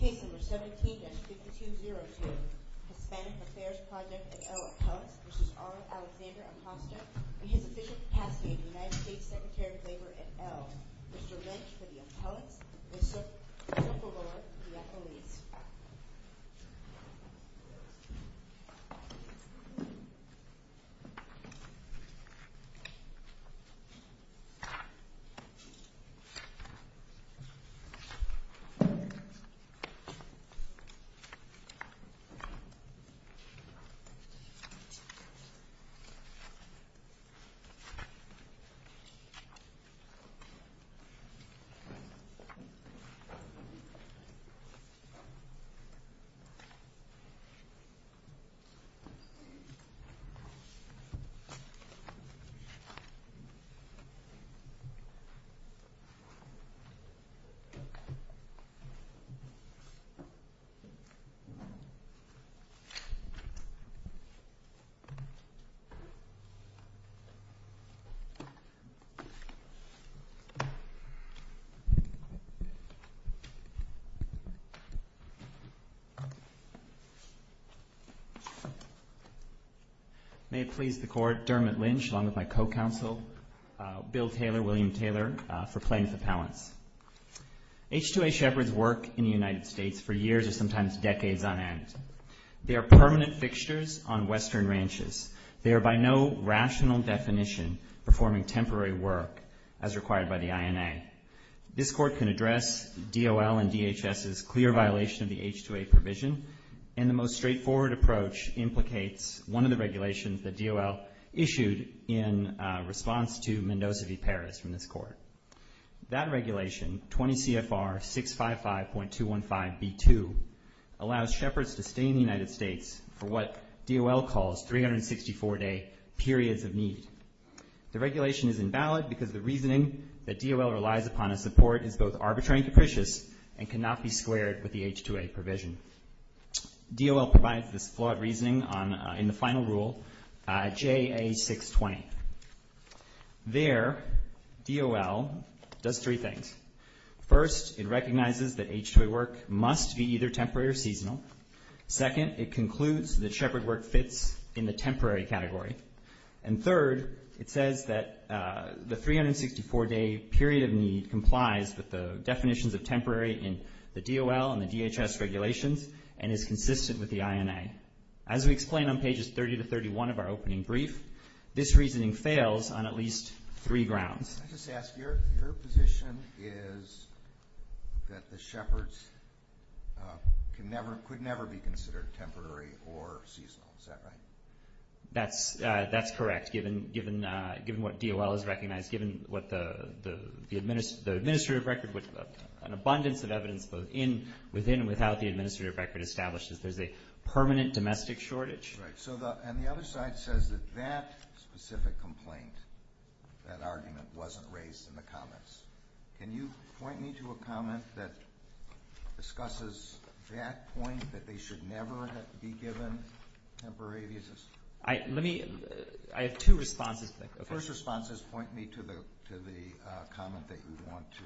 Case No. 17-6202, Hispanic Affairs Project A.O. Appellate v. R. Alexander Acosta, we hereby castrate the United States Secretary of Labor, et al., Mr. Lynch, for the appellate, for the appellate. Thank you, Mr. Chairman. May it please the Court, Dermot Lynch, along with my co-counsel, Bill Taylor, William Taylor, for plaintiff appellants. H-2A shepherds work in the United States for years and sometimes decades on end. They are permanent fixtures on Western ranches. They are by no rational definition performing temporary work as required by the INA. This Court can address DOL and DHS's clear violation of the H-2A provision, and the most straightforward approach implicates one of the regulations that DOL issued in response to Mendoza v. Paris in this Court. That regulation, 20 CFR 655.215b2, allows shepherds to stay in the United States for what DOL calls 364-day periods of need. The regulation is invalid because the reasoning that DOL relies upon in support is both arbitrary and capricious and cannot be squared with the H-2A provision. DOL provides this flawed reasoning in the final rule, JA 620. There, DOL does three things. First, it recognizes that H-2A work must be either temporary or seasonal. Second, it concludes that shepherd work fits in the temporary category. And third, it says that the 364-day period of need complies with the definitions of temporary in the DOL and the DHS regulations and is consistent with the INA. As we explain on pages 30 to 31 of our opening brief, this reasoning fails on at least three grounds. Can I just ask, your position is that the shepherds could never be considered temporary or seasonal. Is that right? That's correct. Given what DOL has recognized, given what the administrative record, which is an abundance of evidence both within and without the administrative record establishes, there's a permanent domestic shortage. Right. And the other side says that that specific complaint, that argument, wasn't raised in the comments. Can you point me to a comment that discusses that point, that they should never be given temporary visas? Let me, I have two responses. First response is point me to the comment that you want to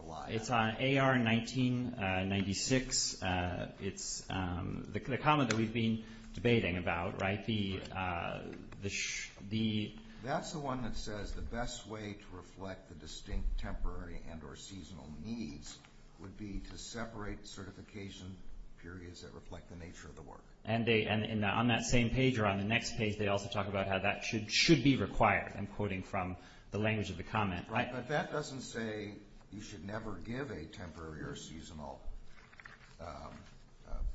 rely on. It's AR-1996. It's the comment that we've been debating about, right? That's the one that says the best way to reflect the distinct temporary and or seasonal needs would be to separate certification periods that reflect the nature of the work. And on that same page or on the next page they also talk about how that should be required, according from the language of the comment, right? But that doesn't say you should never give a temporary or seasonal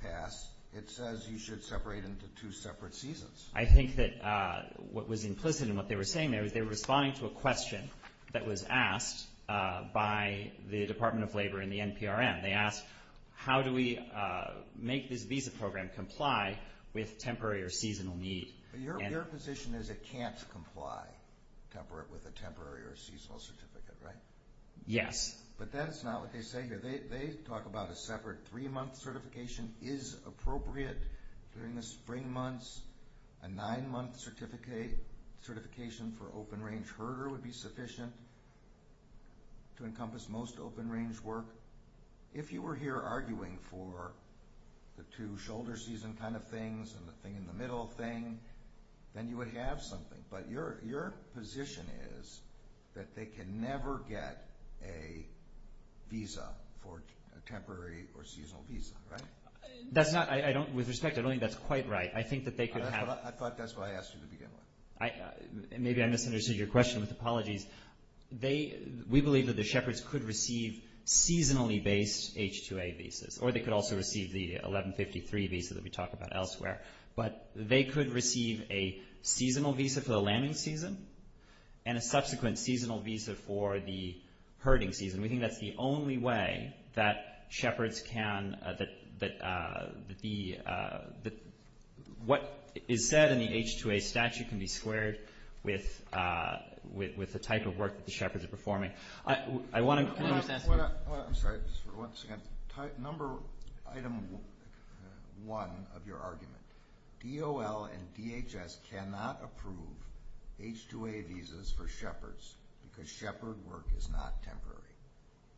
pass. It says you should separate into two separate seasons. I think that what was implicit in what they were saying there, they were responding to a question that was asked by the Department of Labor and the NPRM. They asked, how do we make this visa program comply with temporary or seasonal needs? Your position is it can't comply with a temporary or seasonal certificate, right? Yes. But that's not what they say here. They talk about a separate three-month certification is appropriate. During the spring months, a nine-month certification for open-range herder would be sufficient to encompass most open-range work. If you were here arguing for the two shoulder season kind of things and the thing in the middle thing, then you would have something. But your position is that they can never get a visa, a temporary or seasonal visa, right? With respect, I don't think that's quite right. I thought that's what I asked you to begin with. Maybe I misunderstood your question. Apologies. We believe that the shepherds could receive seasonally-based H-2A visas or they could also receive the 1153 visa that we talk about elsewhere. But they could receive a seasonal visa for the lambing season and a subsequent seasonal visa for the herding season. We think that's the only way that shepherds can be – what is said in the H-2A statute can be squared with the type of work the shepherds are performing. I want to – I'm sorry. Once again, number item one of your argument, DOL and DHS cannot approve H-2A visas for shepherds because shepherd work is not temporary.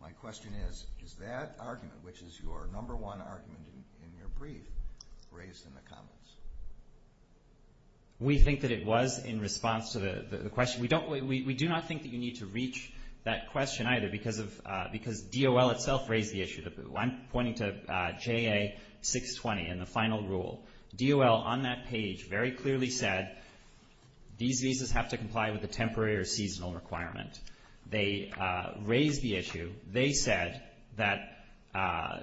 My question is, is that argument, which is your number one argument in your brief, raised in the comments? We think that it was in response to the question. We do not think that you need to reach that question either because DOL itself raised the issue. I'm pointing to JA-620 in the final rule. DOL on that page very clearly said these visas have to comply with the temporary or seasonal requirements. They raised the issue. They said that the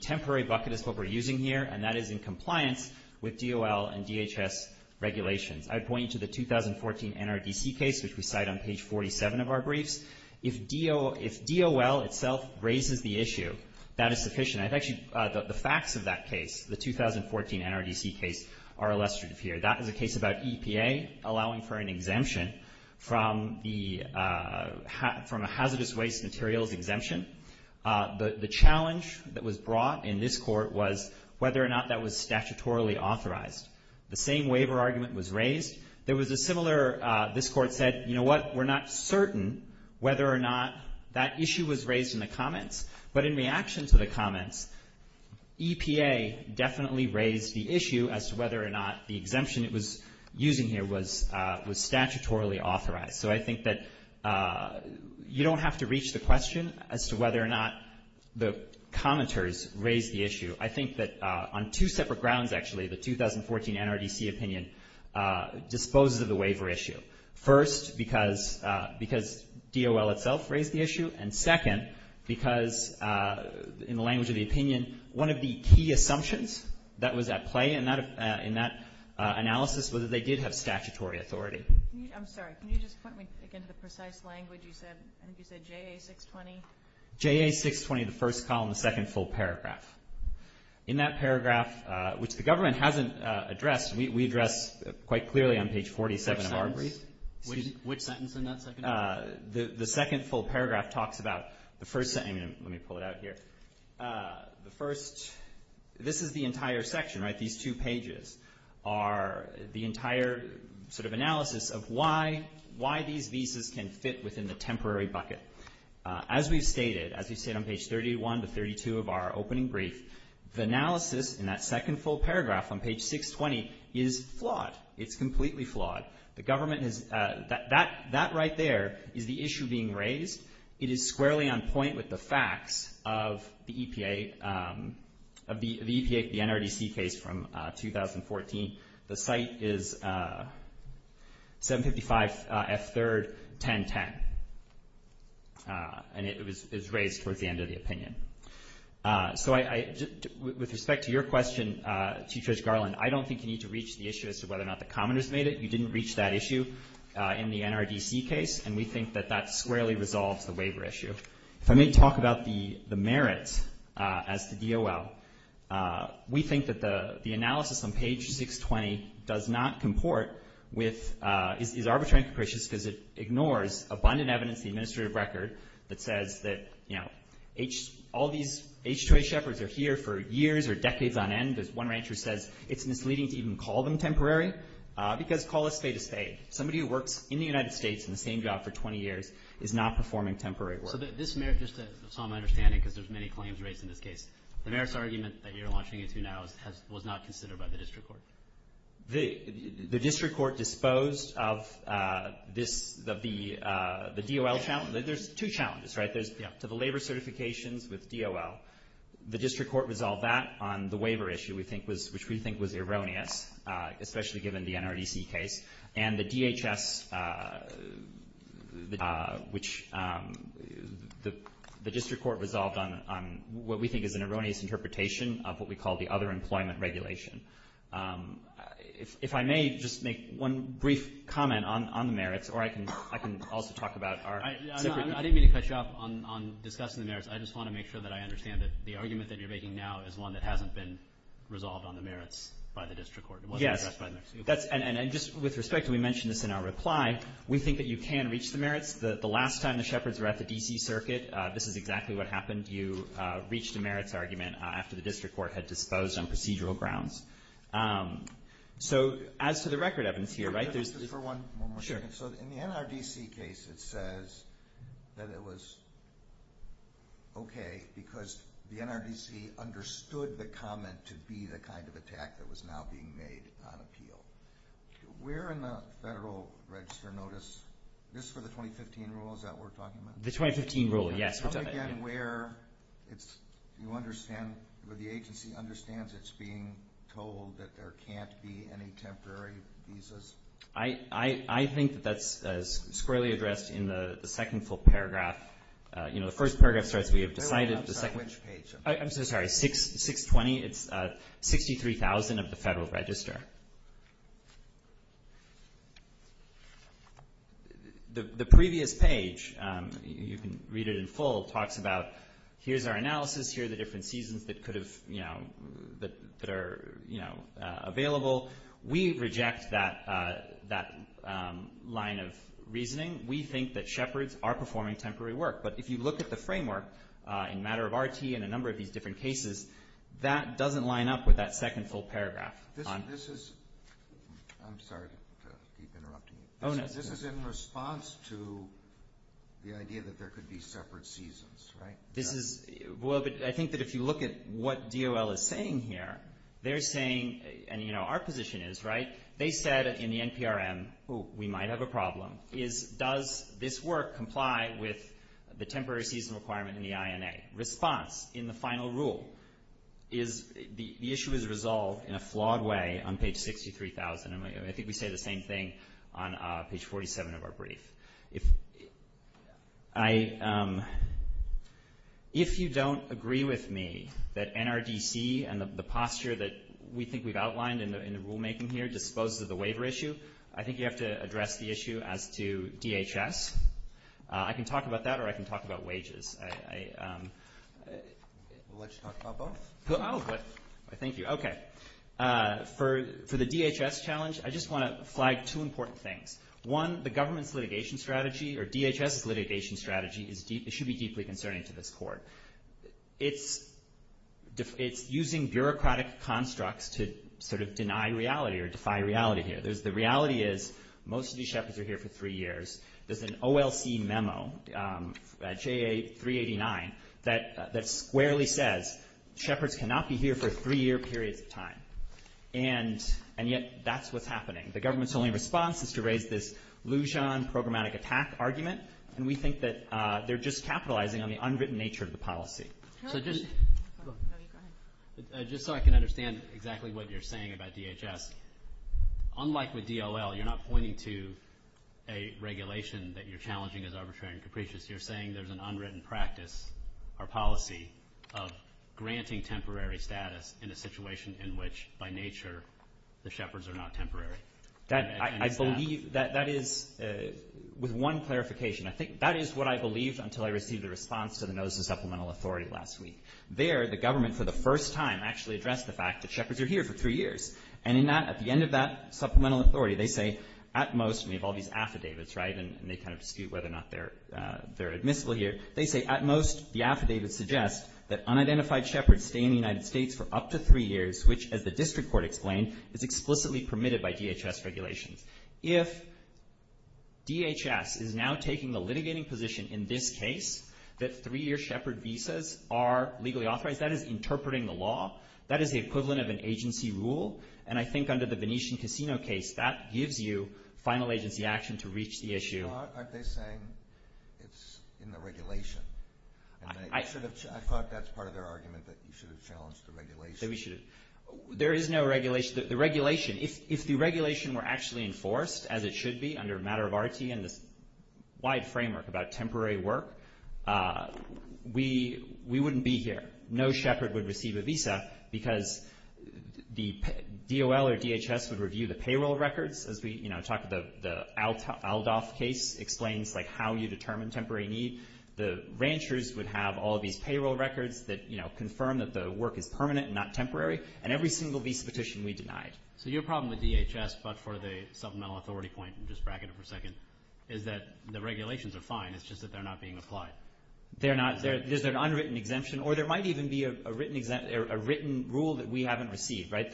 temporary bucket is what we're using here, and that is in compliance with DOL and DHS regulations. I point you to the 2014 NRDC case, which we cite on page 47 of our briefs. If DOL itself raises the issue, that is sufficient. I've actually – the facts of that case, the 2014 NRDC case, are illustrated here. That is a case about EPA allowing for an exemption from a hazardous waste materials exemption. The challenge that was brought in this court was whether or not that was statutorily authorized. The same waiver argument was raised. There was a similar – this court said, you know what, we're not certain whether or not that issue was raised in the comments. But in reaction to the comments, EPA definitely raised the issue as to whether or not the exemption it was using here was statutorily authorized. So I think that you don't have to reach the question as to whether or not the commenters raised the issue. I think that on two separate grounds, actually, the 2014 NRDC opinion disposes of the waiver issue. First, because DOL itself raised the issue, and second, because in the language of the opinion, one of the key assumptions that was at play in that analysis was that they did have statutory authority. I'm sorry. Can you just point me to, again, the precise language you said, I think you said JA620? JA620, the first column, the second full paragraph. In that paragraph, which the government hasn't addressed, we addressed quite clearly on page 47 of our brief. Which sentence in that second paragraph? The second full paragraph talks about the first – let me pull it out here. The first – this is the entire section, right? These two pages are the entire sort of analysis of why these visas can fit within the temporary bucket. As we've stated, as we've stated on page 31 to 32 of our opening brief, the analysis in that second full paragraph on page 620 is flawed. It's completely flawed. The government is – that right there is the issue being raised. It is squarely on point with the facts of the EPA – of the EPA, the NRDC case from 2014. The site is 755 F3rd, 1010. And it was raised toward the end of the opinion. So I – with respect to your question, Chief Judge Garland, I don't think you need to reach the issue as to whether or not the commoners made it. You didn't reach that issue in the NRDC case, and we think that that squarely resolves the waiver issue. Let me talk about the merits as to DOL. We think that the analysis on page 620 does not comport with – is arbitrary and capricious because it ignores abundant evidence in the administrative record that says that, you know, all these H-2A shepherds are here for years or decades on end. There's one rancher who says it's misleading to even call them temporary because call a stay-to-stay. Somebody who worked in the United States in the same job for 20 years is not performing temporary work. So this merit, just to some understanding because there's many claims raised in this case, the merits argument that you're launching into now was not considered by the district court. The district court disposed of this – of the DOL challenge. There's two challenges, right? So the labor certifications with DOL, the district court resolved that on the waiver issue, which we think was erroneous, especially given the NRDC case. And the DHS, which the district court resolved on what we think is an erroneous interpretation of what we call the other employment regulation. If I may just make one brief comment on the merits, or I can also talk about our – I didn't mean to cut you off on discussing the merits. I just want to make sure that I understand that the argument that you're making now is one that hasn't been resolved on the merits by the district court. Yes. And just with respect, we mentioned this in our reply. We think that you can reach the merits. The last time the Shepherds were at the D.C. Circuit, this is exactly what happened. You reached the merits argument after the district court had disposed on procedural grounds. So as to the record evidence here, right? Just for one more second. Sure. So in the NRDC case, it says that it was okay because the NRDC understood the comment to be the kind of attack that was now being made on appeal. Where in the federal register notice – this is for the 2015 rule, is that what we're talking about? The 2015 rule, yes. Again, where it's – you understand – where the agency understands it's being told that there can't be any temporary visas? I think that's squarely addressed in the second full paragraph. You know, the first paragraph says we have decided – Which page? I'm sorry. 620. It's 63,000 of the federal register. The previous page – you can read it in full – talks about here's our analysis, here are the different seasons that could have, you know – that are, you know, available. We reject that line of reasoning. We think that Shepherds are performing temporary work. But if you look at the framework in the matter of RT and a number of these different cases, that doesn't line up with that second full paragraph. This is – I'm sorry to keep interrupting you. This is in response to the idea that there could be separate seasons, right? Well, but I think that if you look at what DOL is saying here, they're saying – and, you know, our position is, right, they said in the NPRM we might have a problem. Is – does this work comply with the temporary season requirement in the INA? Response in the final rule is the issue is resolved in a flawed way on page 63,000. I think we say the same thing on page 47 of our brief. If you don't agree with me that NRDC and the posture that we think we've outlined in the rulemaking here is exposed to the waiver issue, I think you have to address the issue as to DHS. I can talk about that or I can talk about wages. We'll let you talk about both. Oh, good. Thank you. Okay. For the DHS challenge, I just want to flag two important things. One, the government's litigation strategy or DHS's litigation strategy should be deeply concerning to this court. It's using bureaucratic constructs to sort of deny reality or defy reality here. The reality is most of these shepherds are here for three years. There's an OLC memo, JA389, that squarely says shepherds cannot be here for three-year periods of time, and yet that's what's happening. The government's only response is to raise this Lujan programmatic attack argument, and we think that they're just capitalizing on the unwritten nature of the policy. So just so I can understand exactly what you're saying about DHS, unlike with DLL, you're not pointing to a regulation that you're challenging as arbitrary and capricious. You're saying there's an unwritten practice or policy of granting temporary status in a situation in which, by nature, the shepherds are not temporary. I believe that that is, with one clarification, I think that is what I believed until I received a response to the notice of supplemental authority last week. There, the government, for the first time, actually addressed the fact that shepherds are here for three years. And at the end of that supplemental authority, they say, at most, we have all these affidavits, right, and they kind of dispute whether or not they're admissible here. They say, at most, the affidavit suggests that unidentified shepherds stay in the United States for up to three years, which, as the district court explained, is explicitly permitted by DHS regulations. If DHS is now taking the litigating position in this case, that three-year shepherd visas are legally authorized, that is interpreting the law. That is the equivalent of an agency rule. And I think under the Venetian Casino case, that gives you final agency action to reach the issue. Aren't they saying it's in the regulation? I thought that's part of their argument, that you should have challenged the regulation. They say we should have. There is no regulation. The regulation, if the regulation were actually enforced, as it should be under a matter of RT and the wide framework about temporary work, we wouldn't be here. No shepherd would receive a visa because the DOL or DHS would review the payroll records, as we, you know, talk about the Aldolf case explains, like, how you determine temporary needs. The ranchers would have all these payroll records that, you know, confirm that the work is permanent and not temporary, and every single visa petition we denied. So your problem with DHS, but for the supplemental authority point, and just bracket it for a second, is that the regulations are fine. It's just that they're not being applied. There's an unwritten exemption, or there might even be a written rule that we haven't received, right?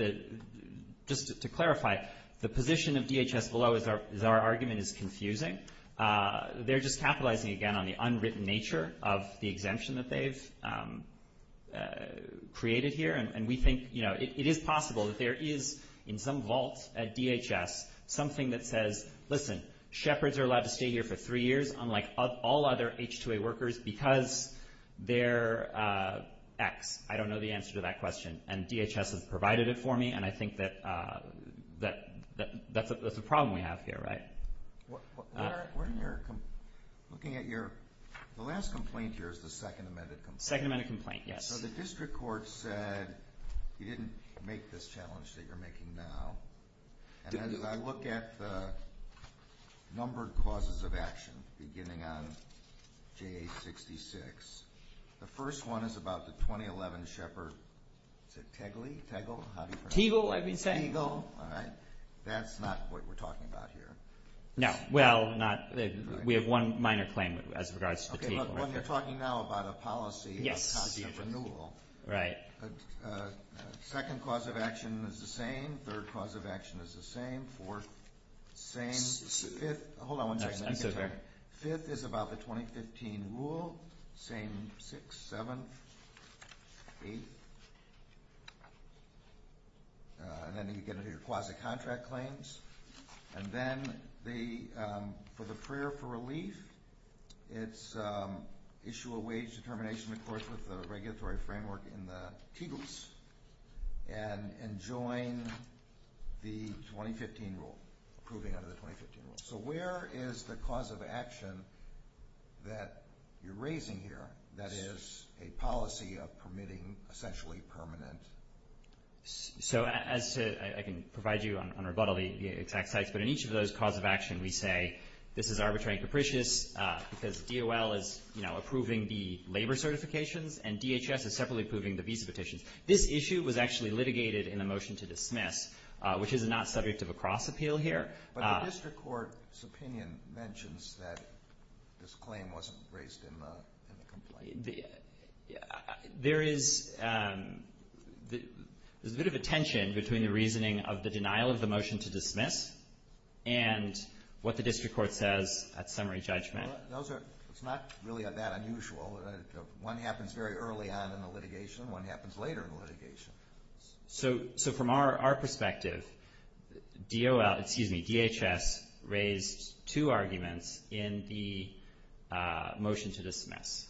Just to clarify, the position of DHS below is our argument is confusing. They're just capitalizing, again, on the unwritten nature of the exemption that they've created here, and we think, you know, it is possible that there is in some vault at DHS something that says, listen, shepherds are allowed to stay here for three years, unlike all other H-2A workers, because they're X. I don't know the answer to that question, and DHS has provided it for me, and I think that that's a problem we have here, right? We're in here looking at your – the last complaint here is the second amended complaint. Second amended complaint, yes. So the district court said you didn't make this challenge that you're making now, and as I look at the numbered causes of action, beginning on J-66, the first one is about the 2011 shepherd. Is it Tegel? Tegel, I mean Tegel. Tegel, all right. That's not what we're talking about here. No, well, not – we have one minor claim as regards to Tegel. Okay, but we're talking now about a policy of cost of renewal. Right. Second cause of action is the same. Third cause of action is the same. Fourth, same. Hold on one second. No, I'm good, sir. Fifth is about the 2015 rule, same six, seven, eight. And then you get your quasi-contract claims. And then for the prayer for relief, it's issue a wage determination, of course, with the regulatory framework in the Tegels and join the 2015 rule, approving of the 2015 rule. So where is the cause of action that you're raising here, that is a policy of permitting essentially permanent? So as to – I can provide you on a rebuttal of the exact types, but in each of those cause of action we say this is arbitrary and capricious because DOL is, you know, approving the labor certifications and DHS is separately approving the visa petitions. This issue was actually litigated in the motion to dismiss, which is not subject of a cross-appeal here. But the district court's opinion mentions that this claim wasn't raised in the complaint. There is a bit of a tension between the reasoning of the denial of the motion to dismiss and what the district court says at summary judgment. It's not really that unusual. One happens very early on in the litigation. One happens later in litigation. So from our perspective, DHS raised two arguments in the motion to dismiss.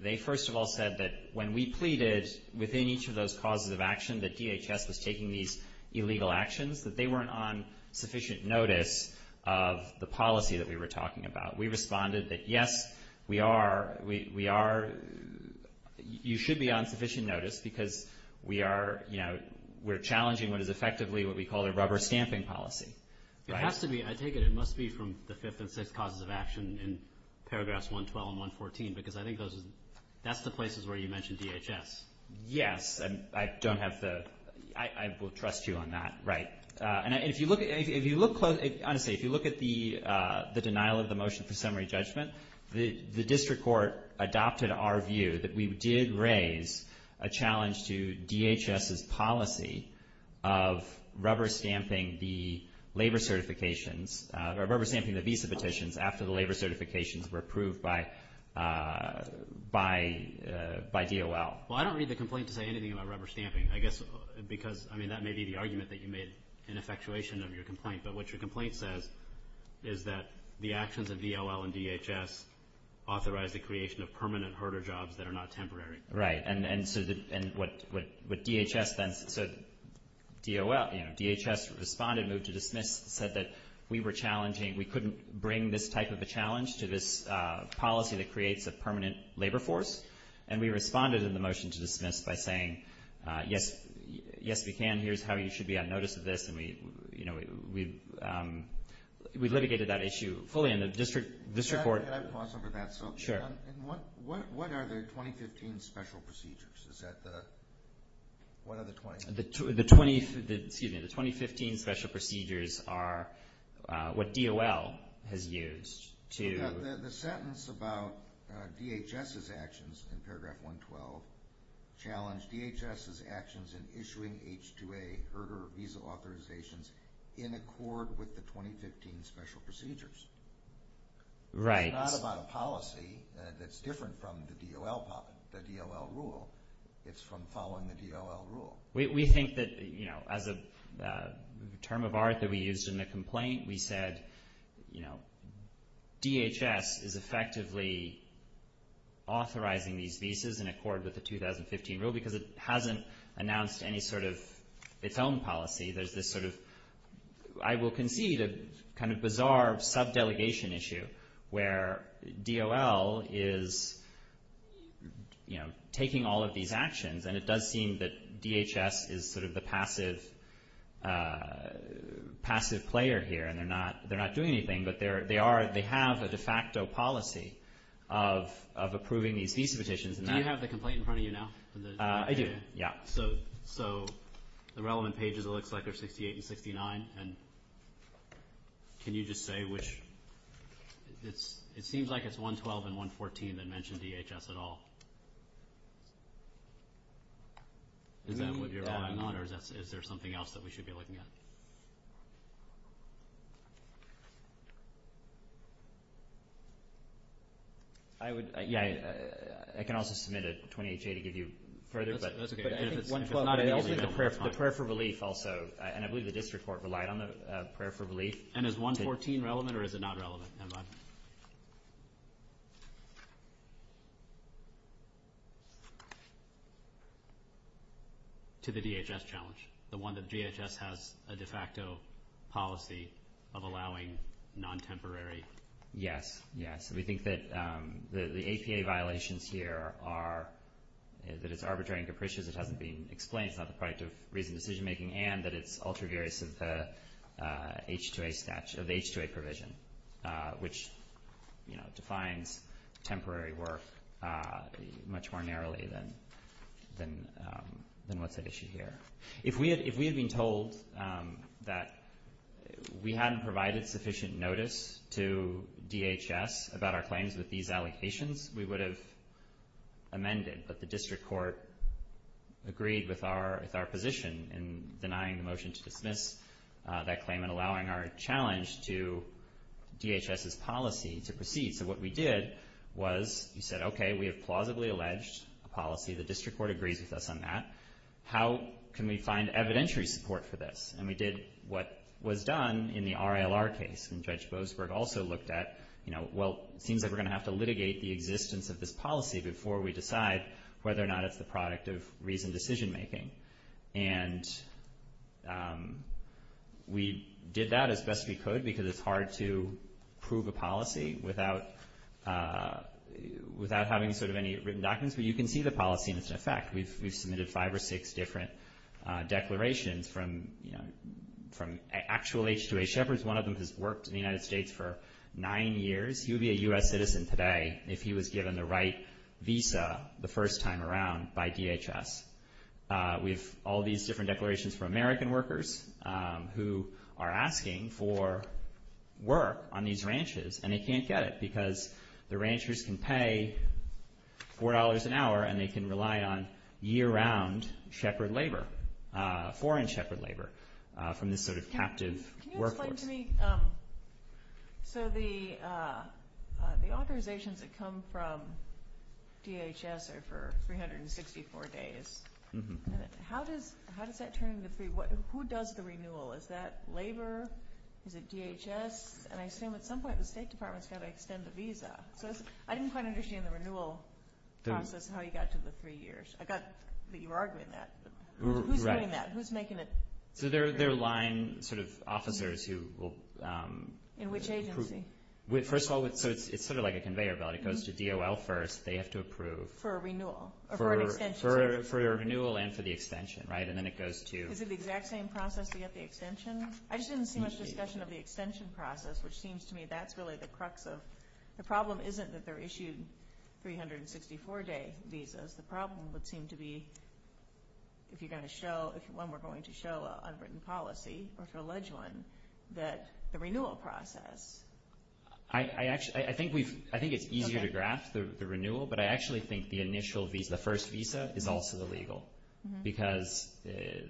They first of all said that when we pleaded within each of those causes of action that DHS was taking these illegal actions, that they weren't on sufficient notice of the policy that we were talking about. We responded that, yes, we are. You should be on sufficient notice because we are, you know, we're challenging what is effectively what we call a rubber stamping policy. It has to be. I think it must be from the fifth and sixth causes of action in paragraphs 112 and 114 because I think that's the places where you mentioned DHS. Yes. I don't have to. I will trust you on that. Right. And if you look at the denial of the motion to summary judgment, the district court adopted our view that we did raise a challenge to DHS's policy of rubber stamping the labor certifications, rubber stamping the visa petitions after the labor certifications were approved by DOL. Well, I don't read the complaint to say anything about rubber stamping. I guess because, I mean, that may be the argument that you made in effectuation of your complaint. But what your complaint says is that the actions of DOL and DHS authorize the creation of permanent herder jobs that are not temporary. Right. And what DHS then said, DOL, you know, DHS responded, moved to dismiss, said that we were challenging, we couldn't bring this type of a challenge to this policy that creates a permanent labor force. And we responded in the motion to dismiss by saying, yes, we can. Here's how you should be on notice of this. And, you know, we litigated that issue fully in the district court. Can I pause for a minute? Sure. And what are the 2015 special procedures? Is that the, what are the 20? The 2015 special procedures are what DOL has used to. The sentence about DHS's actions in paragraph 112 challenged DHS's actions in issuing H-2A herder visa authorizations in accord with the 2015 special procedures. Right. It's not about a policy that's different from the DOL rule. It's from following the DOL rule. We think that, you know, as a term of art that we used in the complaint, we said, you know, DHS is effectively authorizing these visas in accord with the 2015 rule because it hasn't announced any sort of its own policy. There's this sort of, I will concede, this kind of bizarre sub-delegation issue where DOL is, you know, taking all of these actions. And it does seem that DHS is sort of the passive player here. And they're not doing anything. But they are, they have a de facto policy of approving these visa petitions. Do you have the complaint in front of you now? I do, yeah. So the relevant pages, it looks like they're 68 and 59. And can you just say which? It seems like it's 112 and 114 that mention DHS at all. Is that what you're eyeing on, or is there something else that we should be looking at? I would, yeah, I can also submit a 28-J to give you further. But if it's 112, not an issue. The prayer for relief also. And I believe that this report relied on the prayer for relief. And is 114 relevant or is it not relevant? Never mind. To the DHS challenge, the one that DHS has identified. It's a de facto policy of allowing non-temporary. Yes, yes. We think that the APA violations here are that it's arbitrary and capricious. It hasn't been explained. It's not the product of reasoned decision-making. And that it's ultra-various of the H-2A statute, of H-2A provision, which defines temporary work much more narrowly than what's at issue here. If we had been told that we hadn't provided sufficient notice to DHS about our claims with these allocations, we would have amended that the district court agreed with our position in denying the motion to dismiss that claim and allowing our challenge to DHS's policy to proceed. So what we did was we said, okay, we have plausibly alleged a policy. The district court agrees with us on that. How can we find evidentiary support for this? And we did what was done in the RLR case. And Judge Boasberg also looked at, you know, well, it seems like we're going to have to litigate the existence of this policy before we decide whether or not it's the product of reasoned decision-making. And we did that as best we could because it's hard to prove a policy without having sort of any written documents. But you can see the policy in effect. We submitted five or six different declarations from actual H-2A shepherds. One of them has worked in the United States for nine years. He would be a U.S. citizen today if he was given the right visa the first time around by DHS. We have all these different declarations from American workers who are asking for work on these ranches, and they can't get it because the ranchers can pay $4 an hour and they can rely on year-round shepherd labor, foreign shepherd labor from this sort of captive workforce. Can you explain to me, so the authorizations that come from DHS are for 354 days. How does that turn into three? Who does the renewal? Is that labor? Is it DHS? And I assume at some point the State Department is going to extend the visa. I didn't quite understand the renewal process and how you got to the three years. I got that you were arguing that. Who's doing that? Who's making it? They're line sort of officers who will – In which agency? First of all, it's sort of like a conveyor belt. It goes to DOL first. They have to approve. For a renewal? For a renewal and for the extension, right? And then it goes to – Is it the exact same process to get the extension? I just didn't see much discussion of the extension process, which seems to me that's really the crux of – the problem isn't that they're issued 364-day visas. The problem would seem to be, if you're going to show – if one were going to show an unwritten policy or to allege one, that the renewal process – I think it's easier to grasp the renewal, but I actually think the initial visa, the first visa, is also illegal because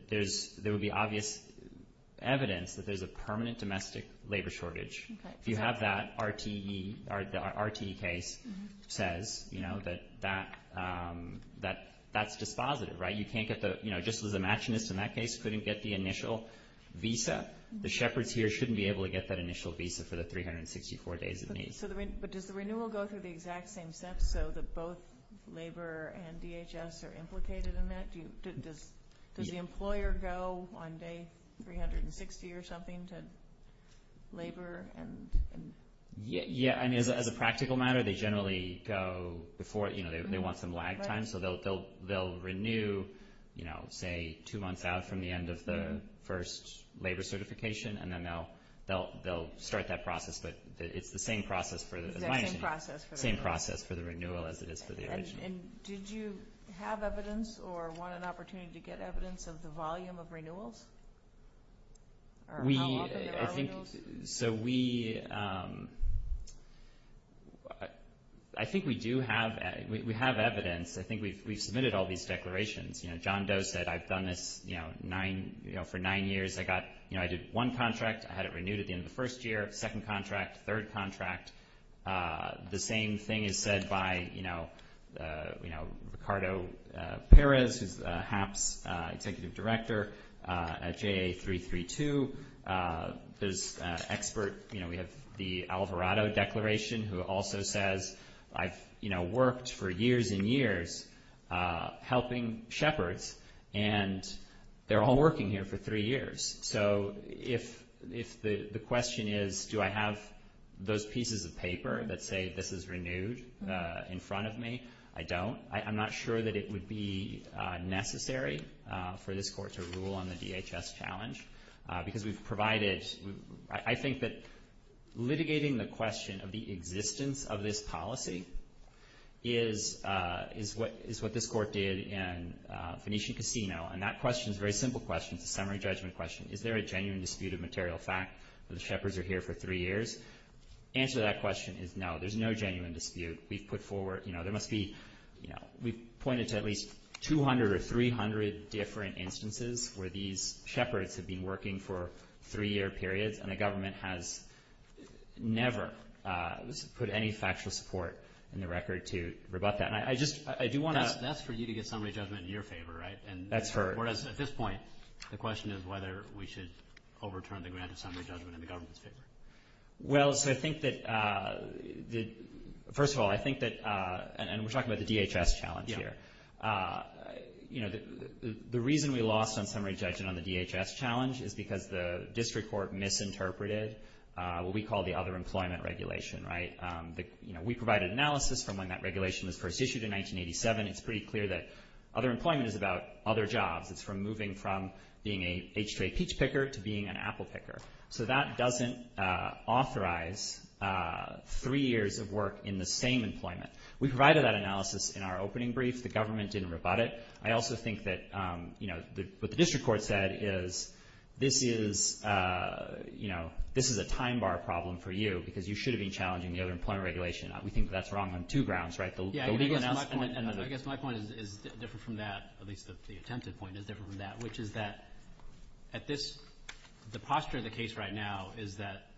there would be obvious evidence that there's a permanent domestic labor shortage. If you have that, RTE case says that that's just positive, right? You can't get the – just as the matching list in that case couldn't get the initial visa, the shepherds here shouldn't be able to get that initial visa for the 364 days of need. But does the renewal go through the exact same steps, though, that both labor and DHS are implicated in that? Does the employer go on day 360 or something to labor and – Yeah, I mean, as a practical matter, they generally go before – they want some lag time, so they'll renew, say, two months out from the end of the first labor certification, and then they'll start that process. But it's the same process for – Same process for the renewal. As well as it is for the original. And did you have evidence or want an opportunity to get evidence of the volume of renewals? Or how often are renewals? So we – I think we do have – we have evidence. I think we've submitted all these declarations. John Doe said I've done this for nine years. I got – I did one contract. I had it renewed at the end of the first year, second contract, third contract. The same thing is said by, you know, Ricardo Perez, who's HAP's executive director at JA332. There's an expert – you know, we have the Alvarado Declaration, who also says I've, you know, worked for years and years helping shepherds, and they're all working here for three years. So if the question is do I have those pieces of paper that say this is renewed in front of me, I don't. I'm not sure that it would be necessary for this court to rule on the DHS challenge because we've provided – I think that litigating the question of the existence of this policy is what this court did in Venetian Casino, and that question is a very simple question, a summary judgment question. Is there a genuine dispute of material fact that the shepherds are here for three years? The answer to that question is no. There's no genuine dispute. We've put forward – you know, there must be – we've pointed to at least 200 or 300 different instances where these shepherds have been working for a three-year period, and the government has never put any factual support in the record to rebut that. That's for you to get summary judgment in your favor, right? That's correct. Whereas at this point, the question is whether we should overturn the grant of summary judgment in the government's favor. Well, so I think that – first of all, I think that – and we're talking about the DHS challenge here. The reason we lost on summary judgment on the DHS challenge is because the district court misinterpreted what we call the other employment regulation, right? You know, we provided analysis from when that regulation was first issued in 1987. It's pretty clear that other employment is about other jobs. It's from moving from being a H-J peach picker to being an apple picker. So that doesn't authorize three years of work in the same employment. We provided that analysis in our opening brief. The government didn't rebut it. I also think that, you know, what the district court said is this is – you know, this is a time-bar problem for you because you should have been challenging the other employment regulation. We think that's wrong on two grounds, right? I guess my point is different from that, at least the attempted point is different from that, which is that at this – the posture of the case right now is that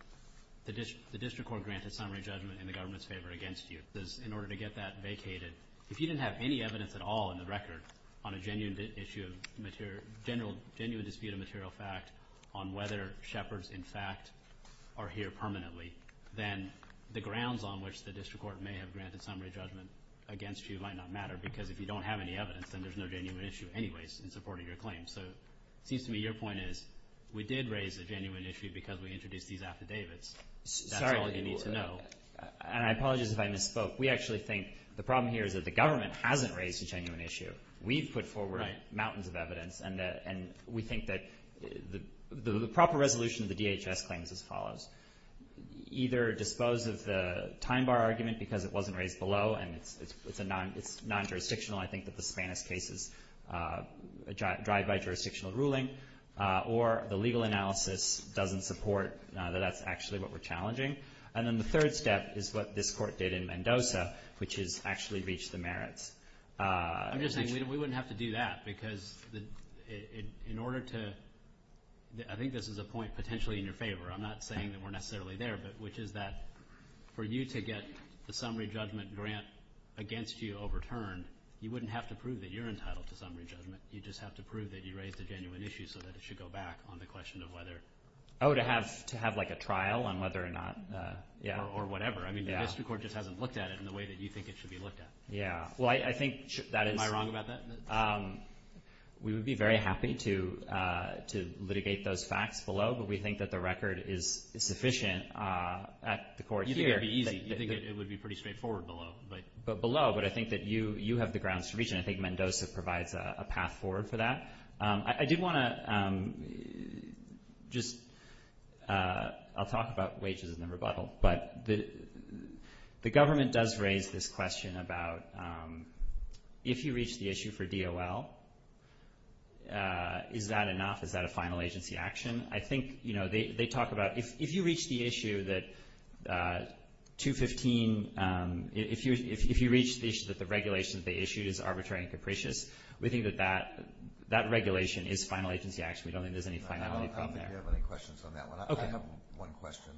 the district court grants a summary judgment in the government's favor against you. In order to get that vacated, if you didn't have any evidence at all in the record on a genuine dispute of material fact on whether Shepherds, in fact, are here permanently, then the grounds on which the district court may have granted summary judgment against you might not matter because if you don't have any evidence, then there's no genuine issue anyways in supporting your claim. So it seems to me your point is we did raise a genuine issue because we introduced these affidavits. That's all you need to know. And I apologize if I misspoke. We actually think the problem here is that the government hasn't raised a genuine issue. We've put forward mountains of evidence, and we think that the proper resolution of the DHS claims is as follows. Either dispose of the time-bar argument because it wasn't raised below and it's non-jurisdictional. I think that the Spanish case is a drive-by jurisdictional ruling, or the legal analysis doesn't support that that's actually what we're challenging. And then the third step is what this court did in Mendoza, which is actually reach the merits. I'm just saying we wouldn't have to do that because in order to – I think this is a point potentially in your favor. I'm not saying that we're necessarily there, but which is that for you to get the summary judgment grant against you overturned, you wouldn't have to prove that you're entitled to summary judgment. You'd just have to prove that you raised a genuine issue so that it should go back on the question of whether – Oh, to have like a trial on whether or not – Or whatever. I mean, I guess the court just hasn't looked at it in the way that you think it should be looked at. Am I wrong about that? We would be very happy to litigate those facts below, but we think that the record is sufficient at the court here. You think it would be pretty straightforward below. Below, but I think that you have the ground solution. I think Mendoza provides a path forward for that. I did want to just – I'll talk about wages in a rebuttal, but the government does raise this question about if you reach the issue for DOL, is that enough? Is that a final agency action? I think they talk about if you reach the issue that 215 – if you reach the issue that the regulations they issued is arbitrary and capricious, we think that that regulation is final agency action. We don't think there's any finality from there. I don't have any questions on that one. Okay. I have one question.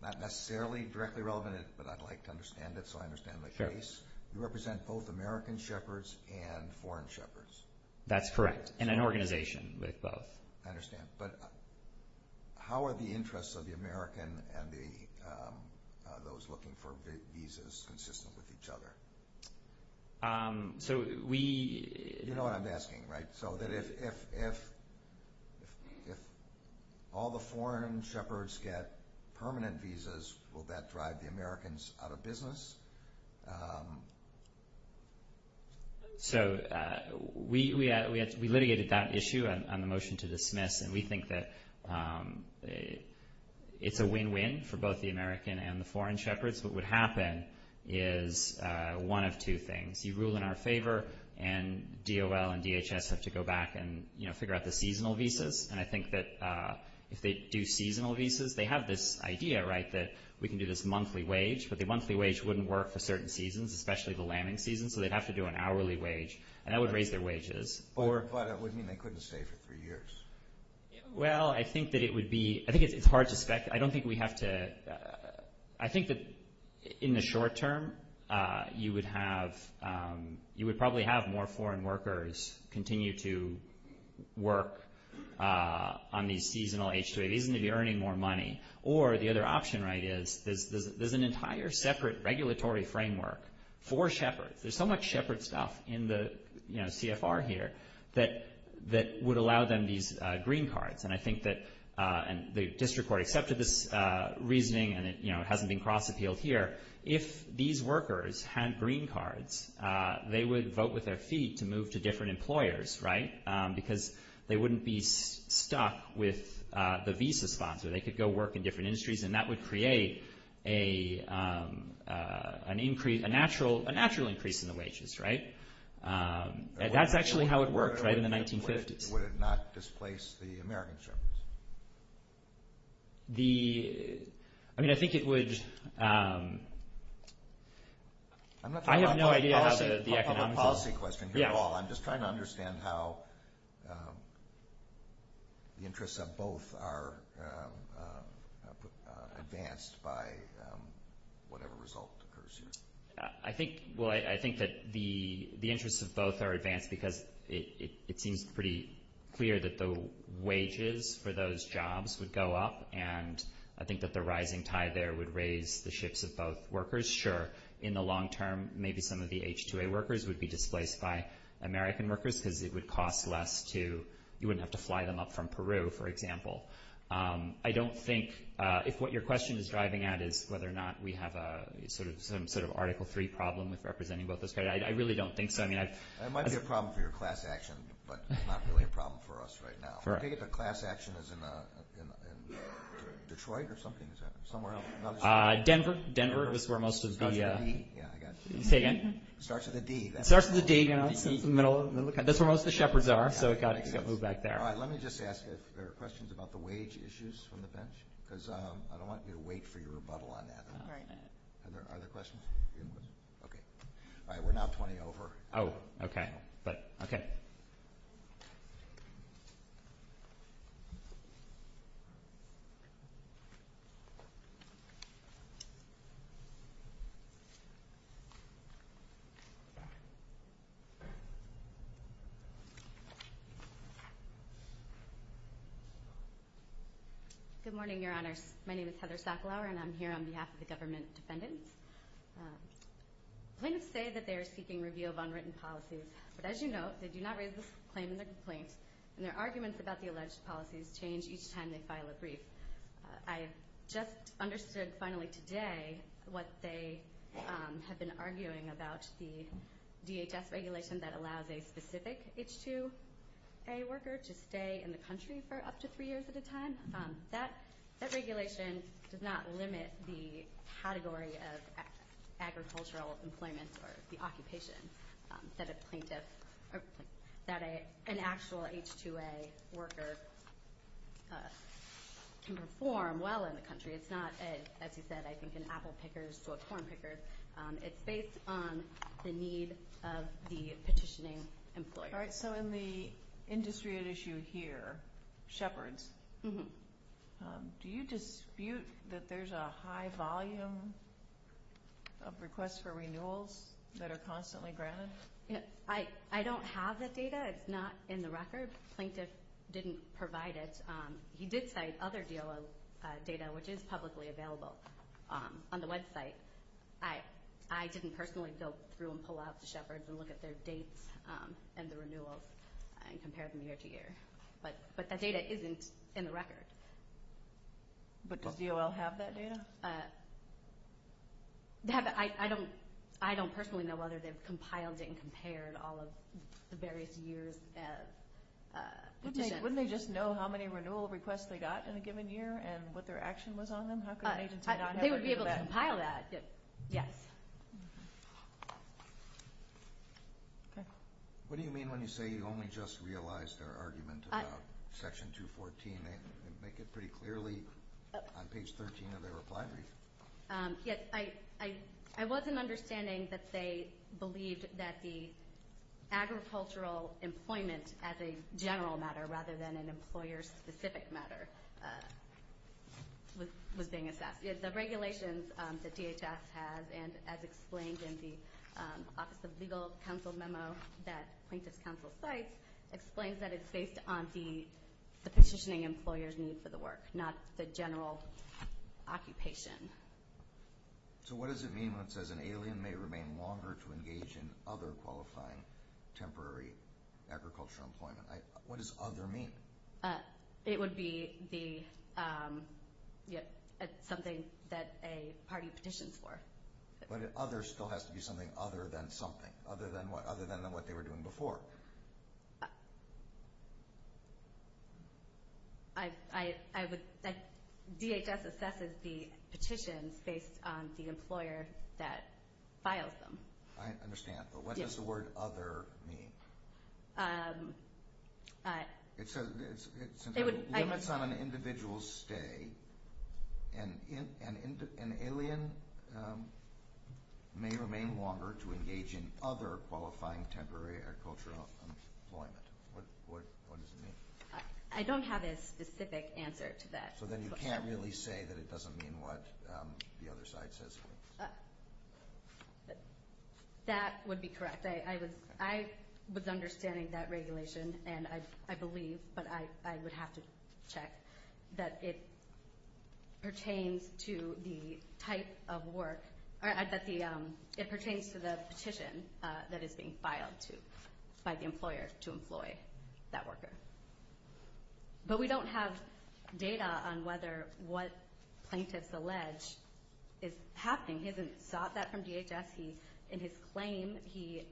Not necessarily directly relevant, but I'd like to understand it so I understand my case. You represent both American shepherds and foreign shepherds. That's correct, in an organization. I understand. But how are the interests of the American and those looking for visas consistent with each other? So we – You know what I'm asking, right? So if all the foreign shepherds get permanent visas, will that drive the Americans out of business? So we litigated that issue on the motion to dismiss, and we think that it's a win-win for both the American and the foreign shepherds. What would happen is one of two things. You rule in our favor, and DOL and DHS have to go back and, you know, figure out the seasonal visas. And I think that if they do seasonal visas, they have this idea, right, that we can do this monthly wage, but the monthly wage wouldn't work for certain seasons, especially the lambing season, so they'd have to do an hourly wage, and that would raise their wages. But it would mean they couldn't save it for years. Well, I think that it would be – I think it's hard to expect. I don't think we have to – I think that in the short term, you would have – you would probably have more foreign workers continue to work on these seasonal H-2As, even if you're earning more money. Or the other option, right, is there's an entire separate regulatory framework for shepherds. There's so much shepherd stuff in the, you know, CFR here that would allow them these green cards. And I think that the district court accepted this reasoning, and it, you know, hasn't been cross-appealed here. If these workers had green cards, they would vote with their feet to move to different employers, right, because they wouldn't be stuck with the visa sponsor. They could go work in different industries, and that would create a natural increase in the wages, right? And that's actually how it worked, right, in the 1950s. Would it not displace the American shepherds? The – I mean, I think it would – I have no idea how the economic – advanced by whatever result occurs here. I think – well, I think that the interests of both are advanced because it seems pretty clear that the wages for those jobs would go up, and I think that the rising tie there would raise the shifts of both workers. Sure, in the long term, maybe some of the H-2A workers would be displaced by American workers because it would cost less to – you wouldn't have to fly them up from Peru, for example. I don't think – if what your question is driving at is whether or not we have a – some sort of Article III problem with representing both those – I really don't think so. I mean, I – It might be a problem for your class action, but it's not really a problem for us right now. Correct. I think the class action is in Detroit or something. Is it somewhere else? Denver. Denver is where most of the – Oh, the D. Yeah, I got you. Say again? It starts with a D. It starts with a D, you know, in the middle. That's where most of the shepherds are, so it got moved back there. All right, let me just ask if there are questions about the wage issues from the bench, because I don't want you to wait for your rebuttal on that. All right. Are there questions? Okay. All right, we're now 20 over. Oh, okay. Okay. Good morning, Your Honor. My name is Heather Sacklower, and I'm here on behalf of the government defendants. I'm going to say that they are seeking review of unwritten policies, but as you know, they do not raise this claim in their complaint, and their arguments about the alleged policies change each time they file a brief. I just understood finally today what they have been arguing about the DHS regulation that allows a specific H-2A worker to stay in the country for up to three years at a time. That regulation does not limit the category of agricultural employment or the occupation that an actual H-2A worker can perform well in the country. It's not, as you said, I think an apple picker or a corn picker. It's based on the need of the petitioning employer. All right, so in the industry at issue here, Shepherds, do you dispute that there's a high volume of requests for renewals that are constantly granted? I don't have the data. It's not in the record. Plaintiff didn't provide it. He did cite other DOA data, which is publicly available on the website. I can personally go through and pull out the Shepherds and look at their dates and the renewals and compare them year to year. But that data isn't in the record. But does DOL have that data? I don't personally know whether they've compiled it and compared all of the various years. Wouldn't they just know how many renewal requests they got in a given year and what their action was on them? They would be able to compile that, yes. What do you mean when you say you only just realized their argument about Section 214? They make it pretty clearly on page 13 of their reply brief. I wasn't understanding that they believed that the agricultural employment as a general matter rather than an employer-specific matter was being assessed. The regulations that DHS has, and as explained in the Office of Legal Counsel memo that plaintiff's counsel cites, explains that it's based on the petitioning employer's need for the work, not the general occupation. So what does it mean when it says an alien may remain longer to engage in other qualifying temporary agricultural employment? What does other mean? It would be something that a party petitioned for. But other still has to be something other than something. Other than what? Other than what they were doing before. DHS assesses the petition based on the employer that filed them. I understand. But what does the word other mean? It limits on an individual's stay. An alien may remain longer to engage in other qualifying temporary agricultural employment. What does it mean? I don't have a specific answer to that. So then you can't really say that it doesn't mean what the other side says. That would be correct. I was understanding that regulation, and I believe, but I would have to check, that it pertains to the type of work, or it pertains to the petition that is being filed by the employer to employ that worker. But we don't have data on whether what plaintiffs allege is happening. He hasn't sought that from DHS. In his claim, he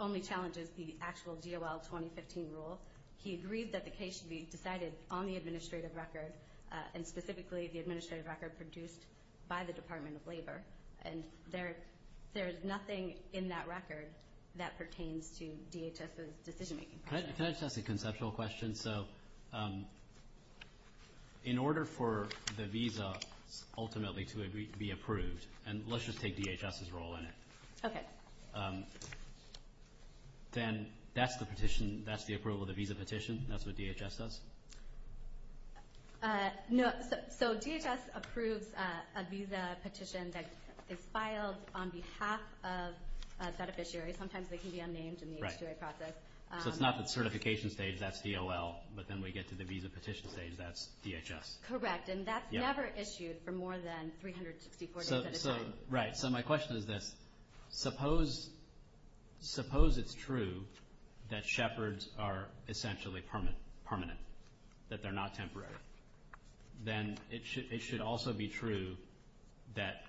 only challenges the actual DOL 2015 rule. He agrees that the case should be decided on the administrative record, and specifically the administrative record produced by the Department of Labor. And there is nothing in that record that pertains to DHS's decision-making process. Can I just ask a conceptual question? So in order for the visa ultimately to be approved, and let's just take DHS's role in it. Okay. Then that's the petition, that's the approval of the visa petition, that's what DHS does? No. So DHS approves a visa petition that is filed on behalf of a beneficiary. Sometimes they can be unnamed in the HTA process. Right. So it's not the certification stage, that's DOL. But then we get to the visa petition stage, that's DHS. Correct. And that's never issued for more than 360 days. Right. So my question is this. Suppose it's true that shepherds are essentially permanent, that they're not temporary. Then it should also be true that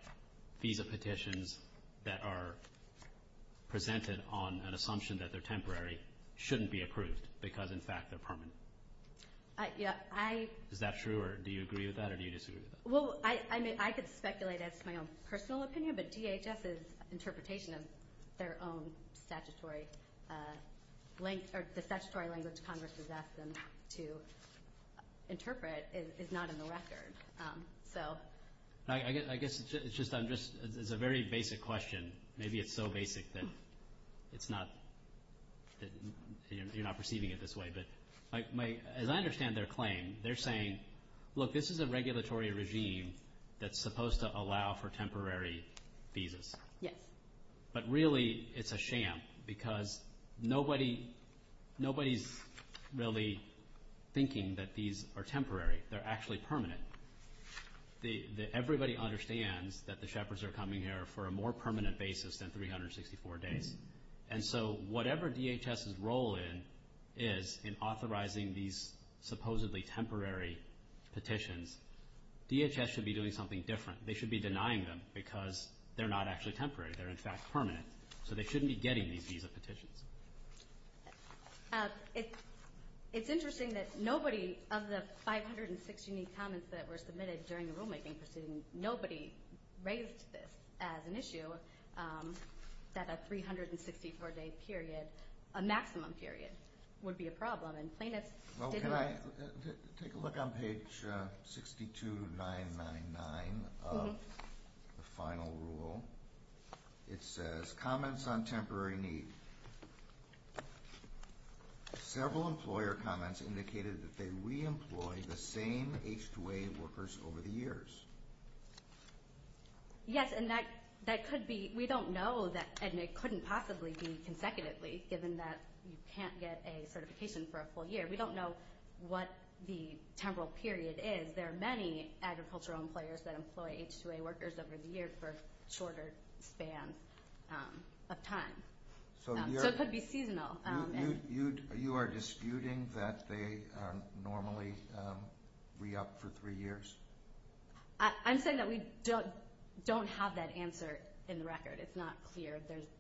visa petitions that are presented on an assumption that they're temporary shouldn't be approved because, in fact, they're permanent. Is that true, or do you agree with that, or do you disagree with that? Well, I could speculate. That's my own personal opinion. But DHS's interpretation of their own statutory language Congress has asked them to interpret is not in the record. I guess it's a very basic question. Maybe it's so basic that you're not perceiving it this way. As I understand their claim, they're saying, look, this is a regulatory regime that's supposed to allow for temporary visas. Yes. But really it's a sham because nobody's really thinking that these are temporary. They're actually permanent. Everybody understands that the shepherds are coming here for a more permanent basis than 364 days. And so whatever DHS's role is in authorizing these supposedly temporary petitions, DHS should be doing something different. They should be denying them because they're not actually temporary. They're, in fact, permanent. So they shouldn't be getting these visa petitions. It's interesting that nobody of the 516 comments that were submitted during the rulemaking proceedings, nobody raised this as an issue, that a 364-day period, a maximum period, would be a problem. And plaintiffs didn't want it. Take a look on page 62999 of the final rule. It says, comments on temporary need. Several employer comments indicated that they re-employed the same H-2A workers over the years. Yes, and that could be. We don't know, and it couldn't possibly be consecutively given that you can't get a certification for a full year. We don't know what the temporal period is. There are many agricultural employers that employ H-2A workers over the years for a shorter span of time. So it could be seasonal. You are disputing that they normally re-opt for three years? I'm saying that we don't have that answer in the record. It's not clear.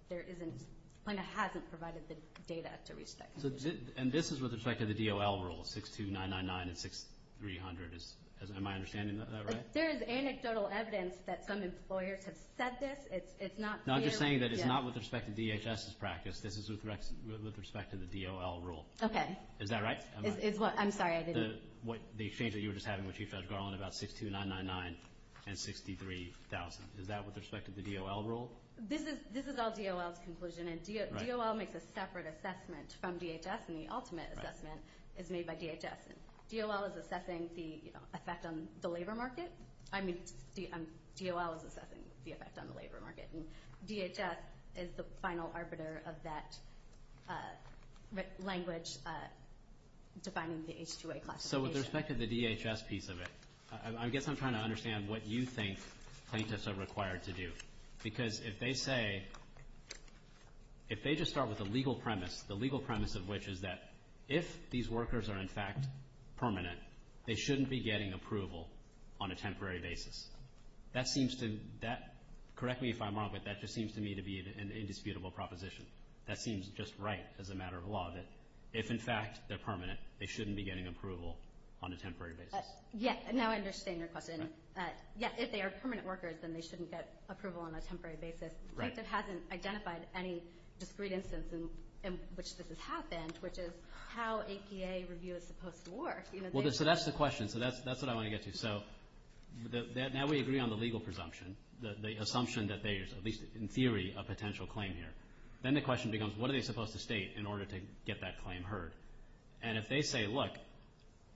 There isn't – the plaintiff hasn't provided the data to reach that conclusion. And this is with respect to the DOL rule, 62999 and 6300. Am I understanding that right? There is anecdotal evidence that some employer has said this. It's not – No, I'm just saying that it's not with respect to DHS's practice. This is with respect to the DOL rule. Okay. Is that right? I'm sorry, I didn't – The exchange that you were just having with Chief Judge Garland about 62999 and 63,000. Is that with respect to the DOL rule? This is all DOL's conclusion. And DOL makes a separate assessment from DHS. And the ultimate assessment is made by DHS. DOL is assessing the effect on the labor market. I mean, DOL is assessing the effect on the labor market. And DHS is the final arbiter of that language defining the H-2A class. So with respect to the DHS piece of it, I guess I'm trying to understand what you think plaintiffs are required to do. Because if they say – if they just start with a legal premise, the legal premise of which is that if these workers are, in fact, permanent, they shouldn't be getting approval on a temporary basis. That seems to – correct me if I'm wrong, but that just seems to me to be an indisputable proposition. That seems just right as a matter of law, that if, in fact, they're permanent, they shouldn't be getting approval on a temporary basis. Yes. Now I understand your question. Yes, if they are permanent workers, then they shouldn't get approval on a temporary basis. Right. If it hasn't identified any discreet instance in which this has happened, which is how APA review is supposed to work. So that's the question. So that's what I want to get to. So now we agree on the legal presumption, the assumption that there is, at least in theory, a potential claim here. Then the question becomes what are they supposed to state in order to get that claim heard? And if they say, look,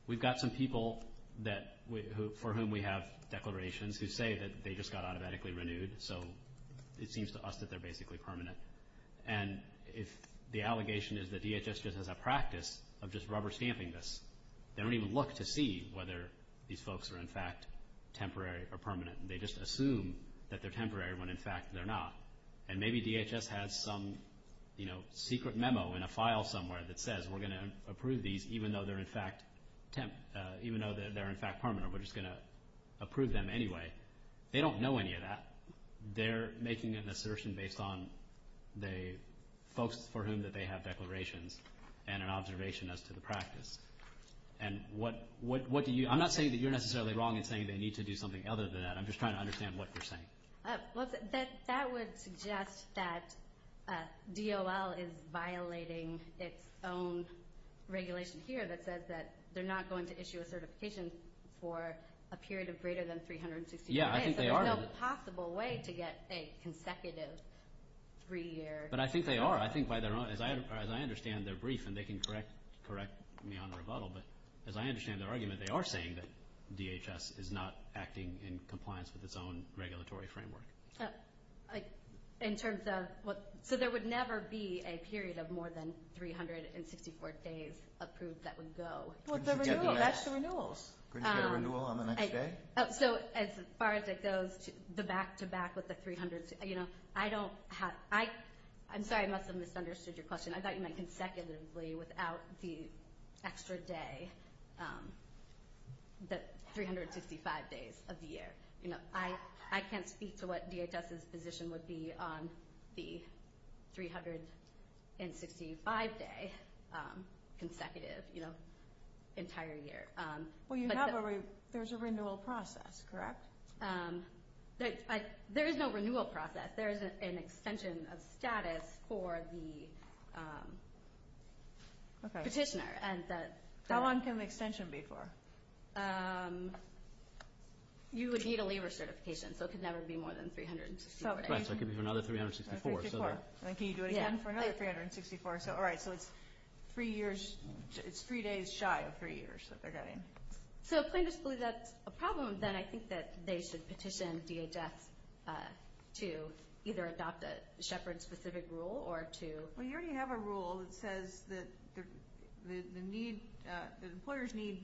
we've got some people that – for whom we have declarations who say that they just got automatically renewed, so it seems to us that they're basically permanent. And if the allegation is that DHS uses a practice of just rubber stamping this, they don't even look to see whether these folks are, in fact, temporary or permanent. They just assume that they're temporary when, in fact, they're not. And maybe DHS has some secret memo in a file somewhere that says we're going to approve these even though they're, in fact, temp – even though they're, in fact, permanent, we're just going to approve them anyway. They don't know any of that. They're making an assertion based on the folks for whom that they have declarations and an observation as to the practice. And what do you – I'm not saying that you're necessarily wrong in saying they need to do something other than that. I'm just trying to understand what you're saying. Well, that would suggest that DOL is violating its own regulation here that says that they're not going to issue a certification for a period of greater than 360 days. Yeah, I think they are. That's not a possible way to get, say, consecutive three-year – But I think they are. I think by their own – as I understand their brief, and they can correct me on their model, but as I understand their argument, they are saying that DHS is not acting in compliance with its own regulatory framework. In terms of – so there would never be a period of more than 364 days approved that would go. Well, it's a renewal. That's a renewal. Couldn't you get a renewal on the next day? So as far as it goes, the back-to-back with the 300 – I don't have – I'm sorry, I must have misunderstood your question. I got you meant consecutively without the extra day, the 365 days of the year. I can't speak to what DHS's position would be on the 365-day consecutive entire year. Well, you have a – there's a renewal process, correct? There is no renewal process. But there is an extension of status for the petitioner, and that's – How long can the extension be for? You would need a labor certification, so it could never be more than 364 days. Right, so I can do another 364, so that – And can you do it again for another 364? So all right, so it's three years – it's three days shy of three years that they're getting. So if plaintiffs believe that's a problem, then I think that they should petition DHS to either adopt the Shepard-specific rule or to – Well, you already have a rule that says that the need – that employers need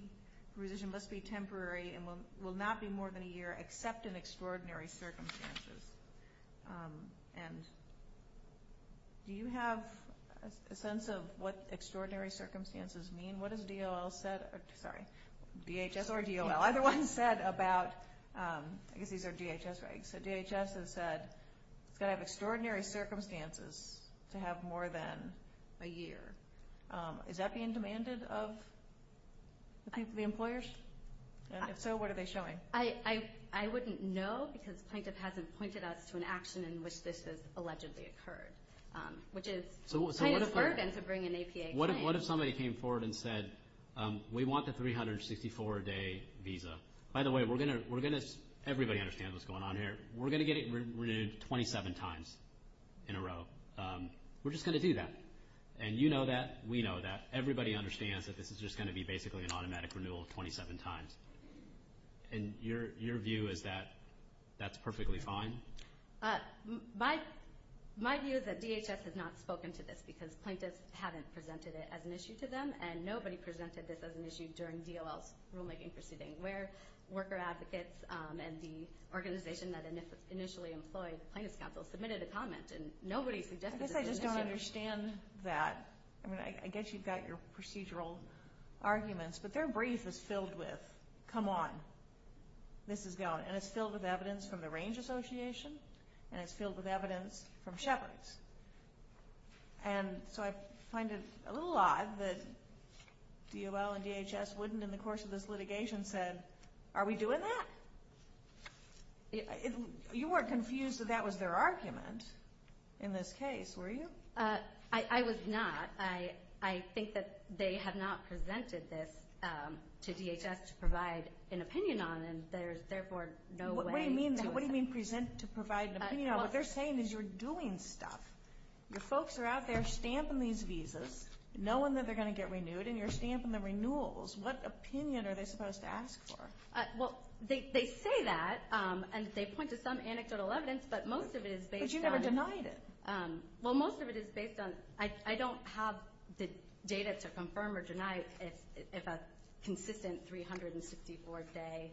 a revision that's going to be temporary and will not be more than a year except in extraordinary circumstances. And do you have a sense of what extraordinary circumstances mean? What has DOL said – sorry, DHS or DOL? Either one said about – I guess these are DHS, right? So DHS has said they have extraordinary circumstances to have more than a year. Is that being demanded of the employers? If so, what are they showing? I wouldn't know because plaintiff hasn't pointed us to an action in which this has allegedly occurred, which is plaintiff's burden to bring an APA claim. What if somebody came forward and said, we want the 364-day visa? By the way, we're going to – everybody understands what's going on here. We're going to get it renewed 27 times in a row. We're just going to do that. And you know that. We know that. Everybody understands that this is just going to be basically an automatic renewal 27 times. And your view is that that's perfectly fine? My view is that DHS has not spoken to this because plaintiffs haven't presented it as an issue to them, and nobody presented this as an issue during DOL's rulemaking proceeding, where worker advocates and the organization that initially employed plaintiff's counsel submitted a comment, and nobody presented this as an issue. I guess I just don't understand that. I mean, I guess you've got your procedural arguments, but their brief is filled with, come on, this is going. And it's filled with evidence from the Range Association, and it's filled with evidence from Shetland. And so I find it a little odd that DOL and DHS wouldn't in the course of this litigation have said, are we doing that? You weren't confused that that was their argument in this case, were you? I was not. I think that they have not presented this to DHS to provide an opinion on, and there is therefore no way. What do you mean present to provide an opinion? What they're saying is you're doing stuff. Your folks are out there stamping these visas, knowing that they're going to get renewed, and you're stamping the renewals. What opinion are they supposed to ask for? Well, they say that, and they point to some anecdotal evidence, but most of it is based on. But you never denied it. Well, most of it is based on. I don't have the data to confirm or deny if a consistent 364-day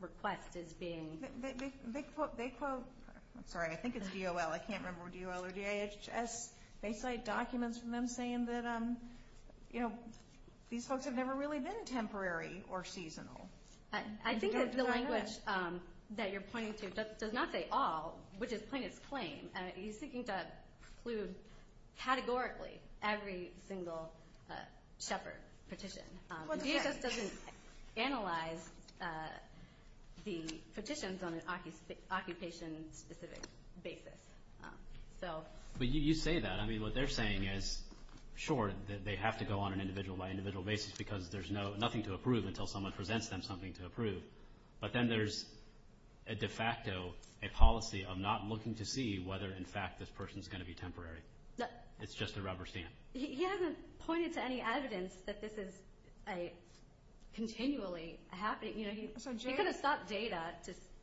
request is being. They quote. Sorry, I think it's DOL. I can't remember if it's DOL or DHS. They cite documents from them saying that, you know, these folks have never really been temporary or seasonal. I think that's the language that you're pointing to. It does not say all, which is plain and plain. You're seeking to include categorically every single shepherd petition. DHS doesn't analyze the petitions on an occupation-specific basis. But you say that. I mean, what they're saying is, sure, they have to go on an individual-by-individual basis because there's nothing to approve until someone presents them something to approve. But then there's a de facto, a policy of not looking to see whether, in fact, this person is going to be temporary. It's just a rubber stamp. He hasn't pointed to any evidence that this is continually happening. You know, he could have sought data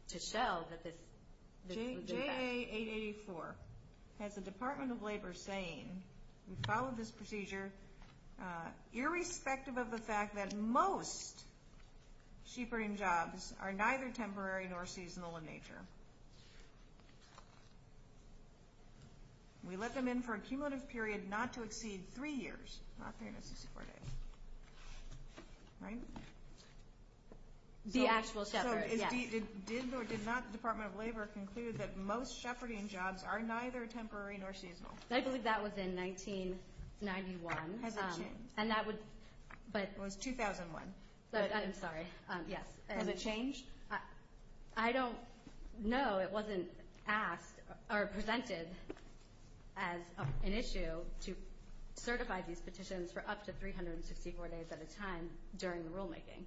to show that this is. J.A. 884 has the Department of Labor saying, we follow this procedure, irrespective of the fact that most sheep rearing jobs are neither temporary nor seasonal in nature. We let them in for a cumulative period not to exceed three years. The actual separate, yes. The Department of Labor concluded that most shepherding jobs are neither temporary nor seasonal. I believe that was in 1991. It was 2001. I'm sorry. Has it changed? I don't know. It wasn't asked or presented as an issue to certify these petitions for up to 364 days at a time during the rulemaking.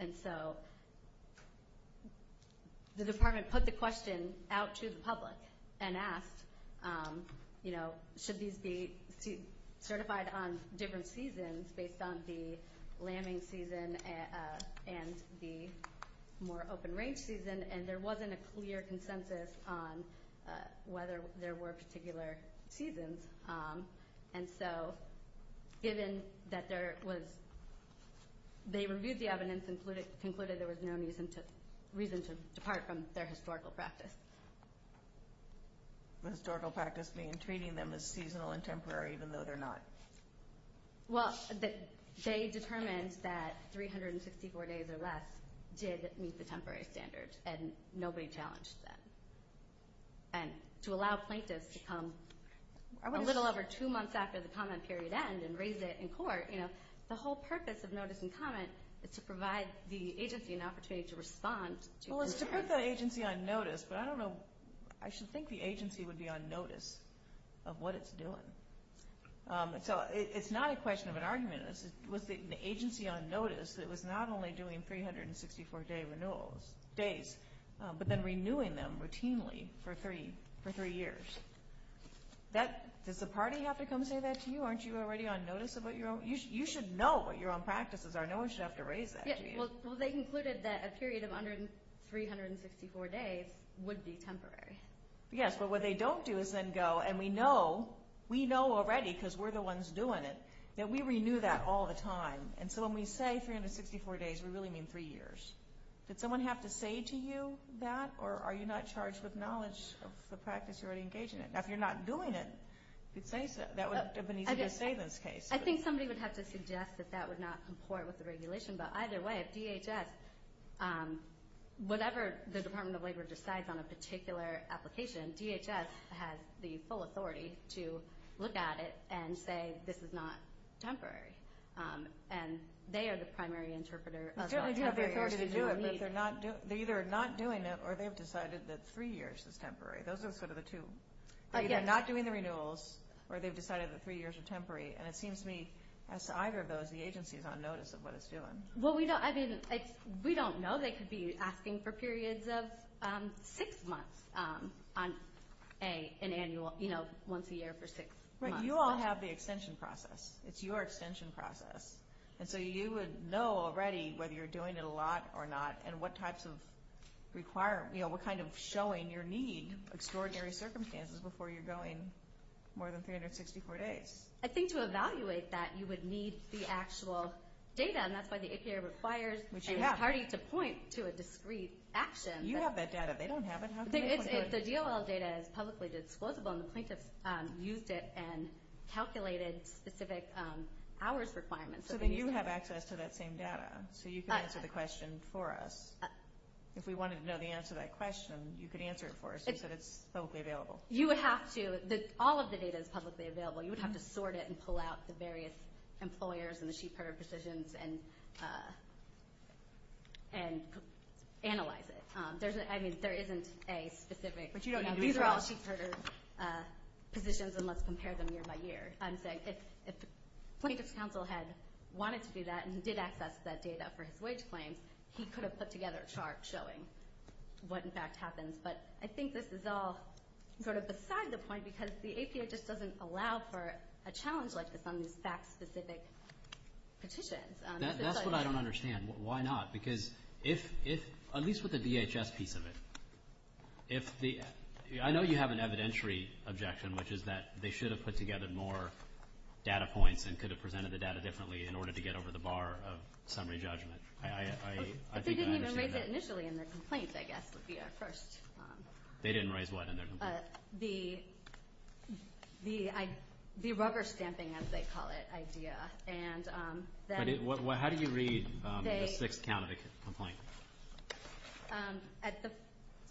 And so the department put the question out to the public and asked, you know, should these be certified on different seasons based on the lambing season and the more open range season? And there wasn't a clear consensus on whether there were particular seasons. And so given that they reviewed the evidence and concluded there was no reason to depart from their historical practice. The historical practice being treating them as seasonal and temporary even though they're not. Well, they determined that 354 days or less did meet the temporary standards, and nobody challenged that. And to allow plaintiffs to come a little over two months after the comment period ends and raise it in court, you know, the whole purpose of notice and comment is to provide the agency an opportunity to respond. Well, to put the agency on notice, but I don't know. I should think the agency would be on notice of what it's doing. So it's not a question of an argument. It's an agency on notice that was not only doing 364 days, but then renewing them routinely for three years. Does the party have to come say that to you? Aren't you already on notice about your own? You should know what your own practices are. No one should have to raise that to you. Well, they concluded that a period of 364 days would be temporary. Yes, but what they don't do is then go, and we know already because we're the ones doing it, that we renew that all the time. And so when we say 364 days, we really mean three years. Did someone have to say to you that? Or are you not charged with knowledge of the practice you're already engaged in? If you're not doing it, that would be the case. I think somebody would have to suggest that that would not comport with the regulation. But either way, DHS, whatever the Department of Labor decides on a particular application, then DHS has the full authority to look at it and say this is not temporary. And they are the primary interpreter. They're either not doing it or they've decided that three years is temporary. Those are sort of the two. They're either not doing the renewals or they've decided that three years are temporary. And it seems to me as to either of those, the agency is on notice of what it's doing. We don't know. They could be asking for periods of six months once a year for six months. You all have the extension process. It's your extension process. And so you would know already whether you're doing it a lot or not and what kind of showing your need, extraordinary circumstances, before you're going more than 364 days. I think to evaluate that, you would need the actual data. And that's why the ACA requires and parties the points to a discrete action. You have that data. They don't have it. The DOL data is publicly disclosable, and the plaintiff used it and calculated specific hours requirements. So then you have access to that same data. So you can answer the question for us. If we wanted to know the answer to that question, you could answer it for us. You said it's publicly available. You would have to. All of the data is publicly available. You would have to sort it and pull out the various employers and the Sheepherder positions and analyze it. I mean, there isn't a specific. But you don't need to be through all the Sheepherder positions and let's compare them year by year. If the plaintiff's counsel had wanted to do that and did access that data for his wage claim, he could have put together a chart showing what, in fact, happens. But I think this is all sort of beside the point because the APHS doesn't allow for a challenge list that's on the fact-specific petitions. That's what I don't understand. Why not? Because if, at least with the DHS piece of it, I know you have an evidentiary objection, which is that they should have put together more data points and could have presented the data differently in order to get over the bar of summary judgment. They didn't even raise it initially in the complaint, I guess, was the approach. They didn't raise what initially? The rubber-stamping, as they call it, idea. How do you read the 6th County complaint?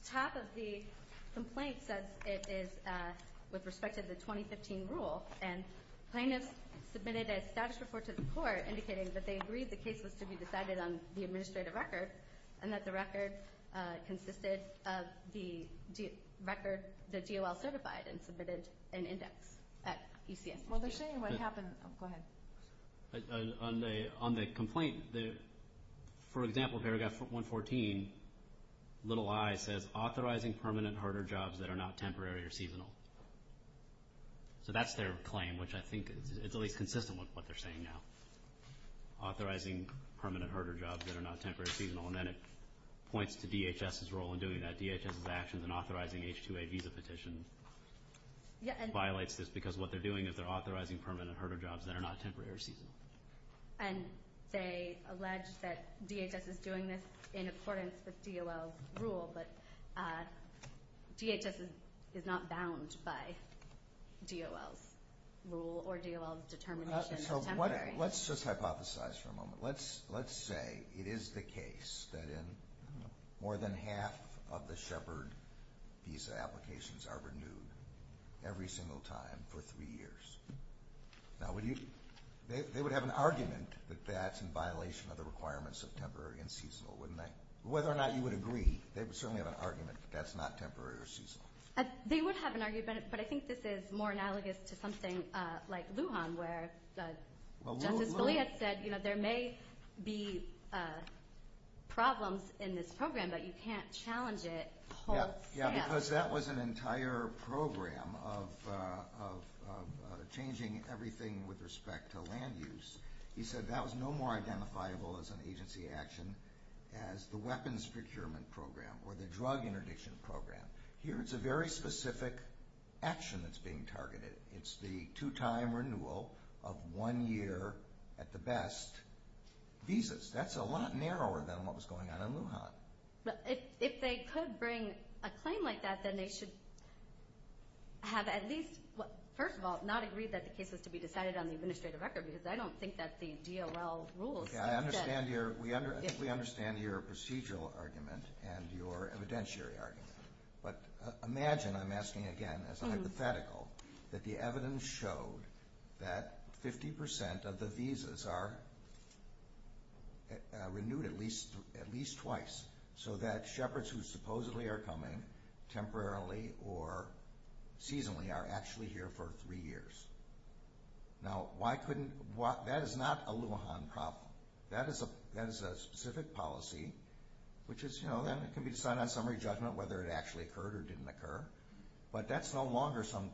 Half of the complaint says it is with respect to the 2015 rule and plaintiff submitted a status report to the court indicating that they agreed the case was to be decided on the administrative record and that the record consisted of the record that GOL certified and submitted an index at ECF. Well, they're saying what happened. Go ahead. On the complaint, for example, paragraph 114, little i, says authorizing permanent harder jobs that are not temporary or seasonal. So that's their claim, which I think is really consistent with what they're saying now, authorizing permanent harder jobs that are not temporary or seasonal. And then it points to DHS's role in doing that. DHS's actions in authorizing H-2A visa petition violates this because what they're doing is they're authorizing permanent harder jobs that are not temporary or seasonal. And they allege that DHS is doing this in accordance with GOL's rule, but DHS is not bound by GOL's rule or GOL's determination. So let's just hypothesize for a moment. Let's say it is the case that more than half of the Shepard visa applications are renewed every single time for three years. Now, they would have an argument that that's in violation of the requirements of temporary and seasonal, wouldn't they? Whether or not you would agree, they would certainly have an argument that that's not temporary or seasonal. They would have an argument, but I think this is more analogous to something like Lujan, where Justice Scalia said there may be problems in this program, but you can't challenge it. Yeah, because that was an entire program of changing everything with respect to land use. He said that was no more identifiable as an agency action as the weapons procurement program or the drug interdiction program. Here it's a very specific action that's being targeted. It's the two-time renewal of one-year, at the best, visas. That's a lot narrower than what was going on in Lujan. But if they could bring a claim like that, then they should have at least, first of all, not agreed that the case was to be decided on the administrative record because I don't think that's the GOL rule. Okay, I think we understand your procedural argument and your evidentiary argument. But imagine, I'm asking again as a hypothetical, that the evidence showed that 50% of the visas are renewed at least twice so that shepherds who supposedly are coming temporarily or seasonally are actually here for three years. Now, that is not a Lujan problem. That is a specific policy, which can be decided on summary judgment whether it actually occurred or didn't occur. But that's no longer some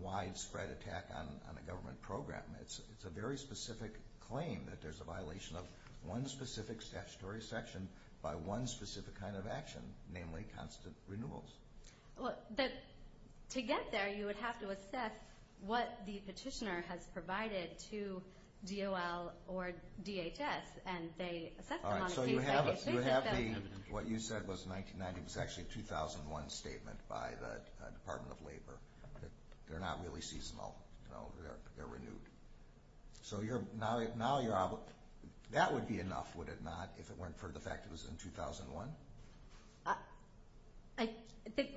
widespread attack on a government program. It's a very specific claim that there's a violation of one specific statutory section by one specific kind of action, namely constant renewals. But to get there you would have to assess what the petitioner has provided to GOL or DHS and they assess the policy. So you have what you said was 1990. It was actually a 2001 statement by the Department of Labor. They're not really seasonal. They're renewed. So that would be enough, would it not, if it weren't for the fact it was in 2001?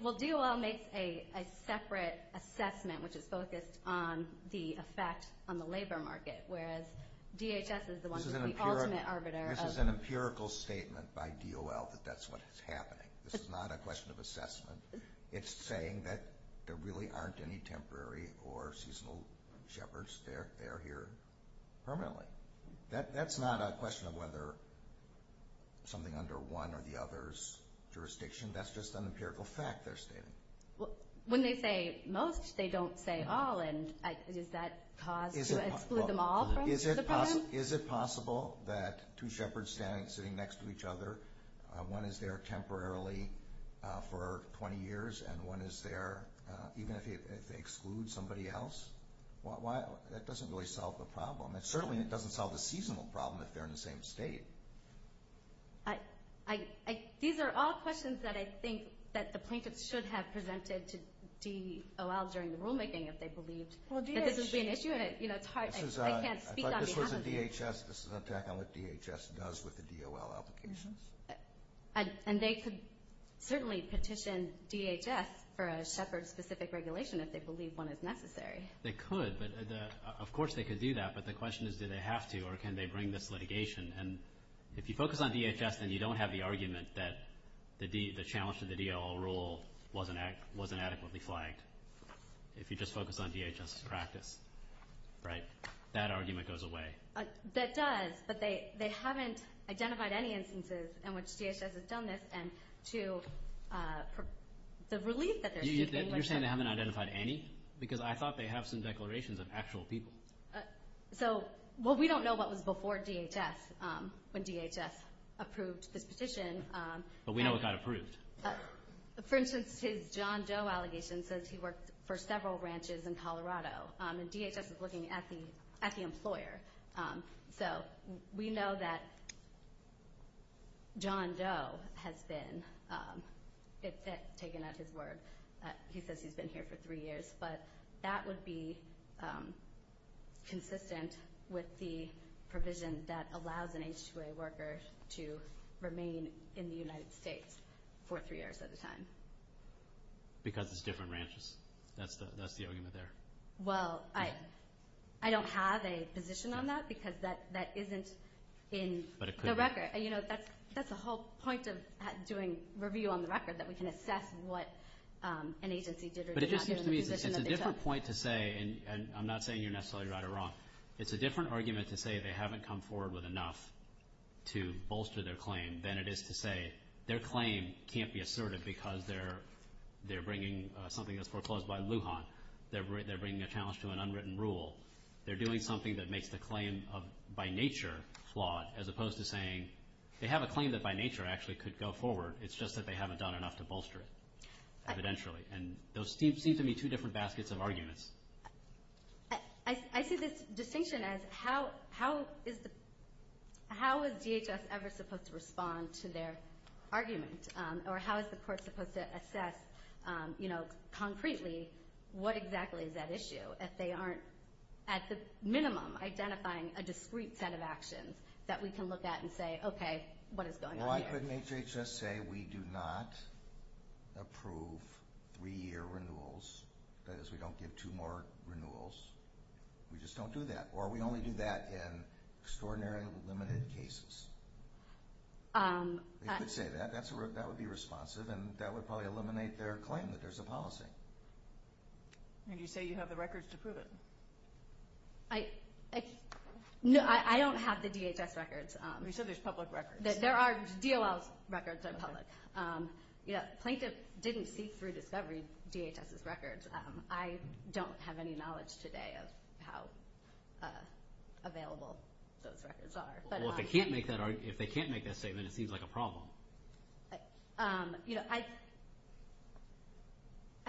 Well, GOL makes a separate assessment which is focused on the effect on the labor market whereas DHS is the one who's the ultimate arbiter. This is an empirical statement by GOL that that's what is happening. This is not a question of assessment. It's saying that there really aren't any temporary or seasonal jeopards. They're here permanently. That's not a question of whether something under one or the other's jurisdiction. That's just an empirical fact they're stating. When they say most, they don't say all, and is that cause to exclude them all from the program? Is it possible that two shepherds standing and sitting next to each other, one is there temporarily for 20 years and one is there even if it excludes somebody else? That doesn't really solve the problem. And certainly it doesn't solve the seasonal problem if they're in the same state. These are all questions that I think that the plaintiffs should have presented to GOL during the rulemaking if they believed that this would be an issue. I can't speak on behalf of you. This is an attack on what DHS does with the DOL application. And they could certainly petition DHS for a shepherd-specific regulation if they believe one is necessary. They could. Of course they could do that, but the question is do they have to or can they bring this litigation? And if you focus on DHS, then you don't have the argument that the challenge to the DOL rule wasn't adequately flagged. If you just focus on DHS' practice, that argument goes away. That does, but they haven't identified any instances in which DHS has done this. You're saying they haven't identified any? Because I thought they have some declarations of actual people. Well, we don't know what was before DHS when DHS approved the petition. But we know it got approved. For instance, his John Doe allegation says he worked for several ranches in Colorado, and DHS was looking at the employer. So we know that John Doe has been taken at his word. He says he's been here for three years. But that would be consistent with the provision that allows an H-2A worker to remain in the United States for three years at a time. Because it's different ranches. That's the argument there. Well, I don't have a position on that because that isn't in the record. That's the whole point of doing review on the record, that we can assess what an agency did or did not do in the position of DHS. But it just seems to me that it's a different point to say, and I'm not saying you're necessarily right or wrong, it's a different argument to say they haven't come forward with enough to bolster their claim than it is to say their claim can't be asserted because they're bringing something that's proposed by Lujan. They're bringing a challenge to an unwritten rule. They're doing something that makes the claim by nature flawed, as opposed to saying they have a claim that by nature actually could go forward. It's just that they haven't done enough to bolster it evidentially. And those seem to be two different baskets of arguments. I see this distinction as how is DHS ever supposed to respond to their arguments, or how is the court supposed to assess concretely what exactly is at issue if they aren't at the minimum identifying a discrete set of actions that we can look at and say, okay, what is going on here? Why couldn't DHS say we do not approve three-year renewals? That is, we don't give two more renewals. We just don't do that. Or we only do that in extraordinarily limited cases. They could say that. That would be responsive, and that would probably eliminate their claim that there's a policy. And you say you have the records to prove it. No, I don't have the DHS records. You said there's public records. There are DOL records that are public. Plaintiffs didn't see through DHS's records. I don't have any knowledge today of how available those records are. Well, if they can't make that statement, it seems like a problem. I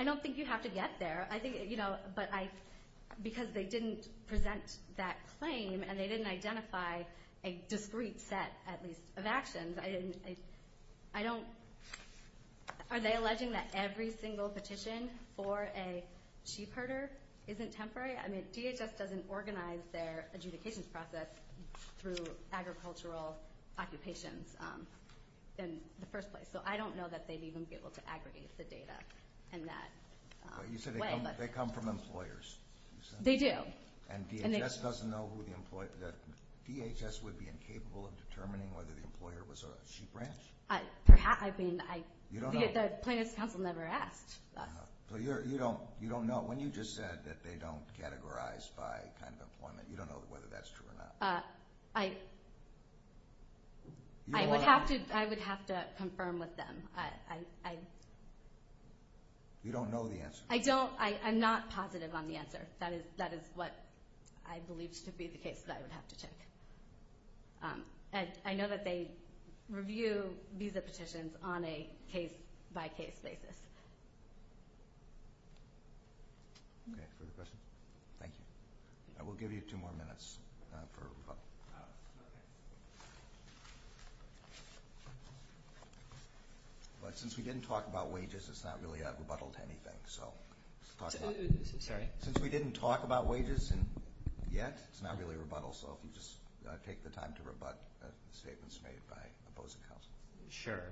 don't think you have to get there. But because they didn't present that claim and they didn't identify a discrete set, at least, of actions, are they alleging that every single petition for a chief herder isn't temporary? I mean, DHS doesn't organize their adjudication process through agricultural occupations in the first place. So I don't know that they'd even be able to aggregate the data in that way. You said they come from employers. They do. And DHS doesn't know who the employer is? DHS would be incapable of determining whether the employer was a chief rancher? Perhaps. I mean, the plaintiffs' counsel never asked. So you don't know. When you just said that they don't categorize by kind of employment, you don't know whether that's true or not. I would have to confirm with them. You don't know the answer. I don't. I'm not positive on the answer. That is what I believe to be the case that I would have to check. I know that they review visa petitions on a case-by-case basis. Okay, good question. Thank you. We'll give you two more minutes. Since we didn't talk about wages, it's not really a rebuttal to anything. Since we didn't talk about wages yet, it's not really a rebuttal. So if you just take the time to rebut the statements made by opposing counsel. Sure.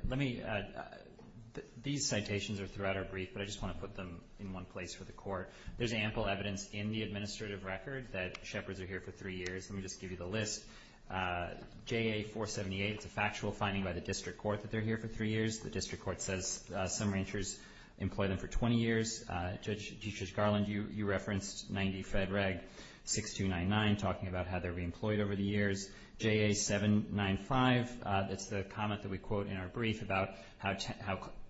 These citations throughout are brief, but I just want to put them in one place for the court. There's ample evidence in the administrative record that shepherds are here for three years. Let me just give you the list. JA-478 is a factual finding by the district court that they're here for three years. The district court says some ranchers employ them for 20 years. Judge Garland, you referenced 90 Fed Reg 6299, talking about how they're being employed over the years. JA-795, that's the comment that we quote in our brief about how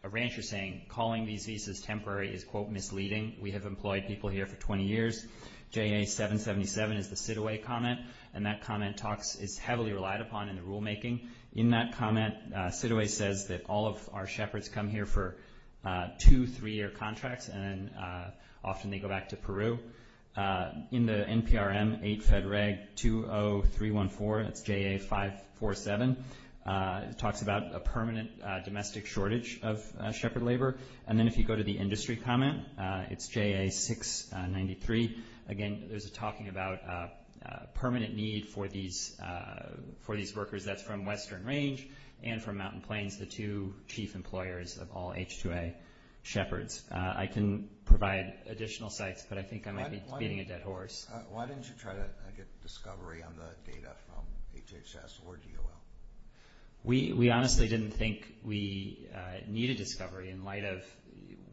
a rancher is saying calling these visas temporary is, quote, misleading. We have employed people here for 20 years. JA-777 is the Sidaway comment, and that comment is heavily relied upon in the rulemaking. In that comment, Sidaway says that all of our shepherds come here for two, three-year contracts, and often they go back to Peru. In the NPRM, 8 Fed Reg 20314, JA-547, it talks about a permanent domestic shortage of shepherd labor. And then if you go to the industry comment, it's JA-693. Again, there's a talking about permanent need for these workers. That's from Western Range and from Mountain Plains, the two chief employers of all H-2A shepherds. I can provide additional sites, but I think I might be beating a dead horse. Why didn't you try to get discovery on the data from HHS or DOL? We honestly didn't think we needed discovery in light of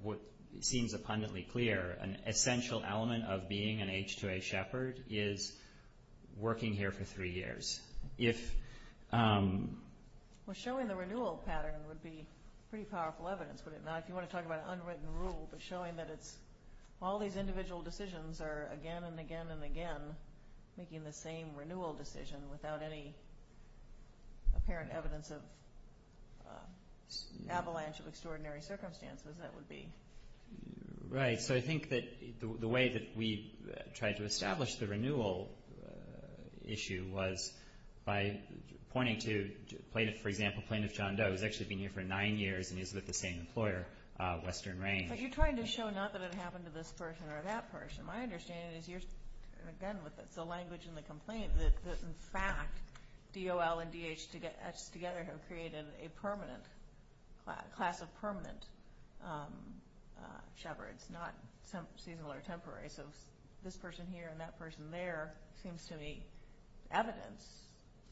what seems abundantly clear. An essential element of being an H-2A shepherd is working here for three years. Well, showing the renewal pattern would be pretty powerful evidence, would it not? You want to talk about an unwritten rule, but showing that all these individual decisions are again and again and again making the same renewal decision without any apparent evidence of avalanche of extraordinary circumstances, that would be. Right. So I think that the way that we tried to establish the renewal issue was by pointing to plaintiffs. For example, Plaintiff John Doe has actually been here for nine years and is with the same employer, Western Range. But you're trying to show not that it happened to this person or that person. My understanding is, again with the language and the complaint, that in fact DOL and DH together have created a class of permanent shepherds, not seasonal or temporary. So this person here and that person there seems to be evidence,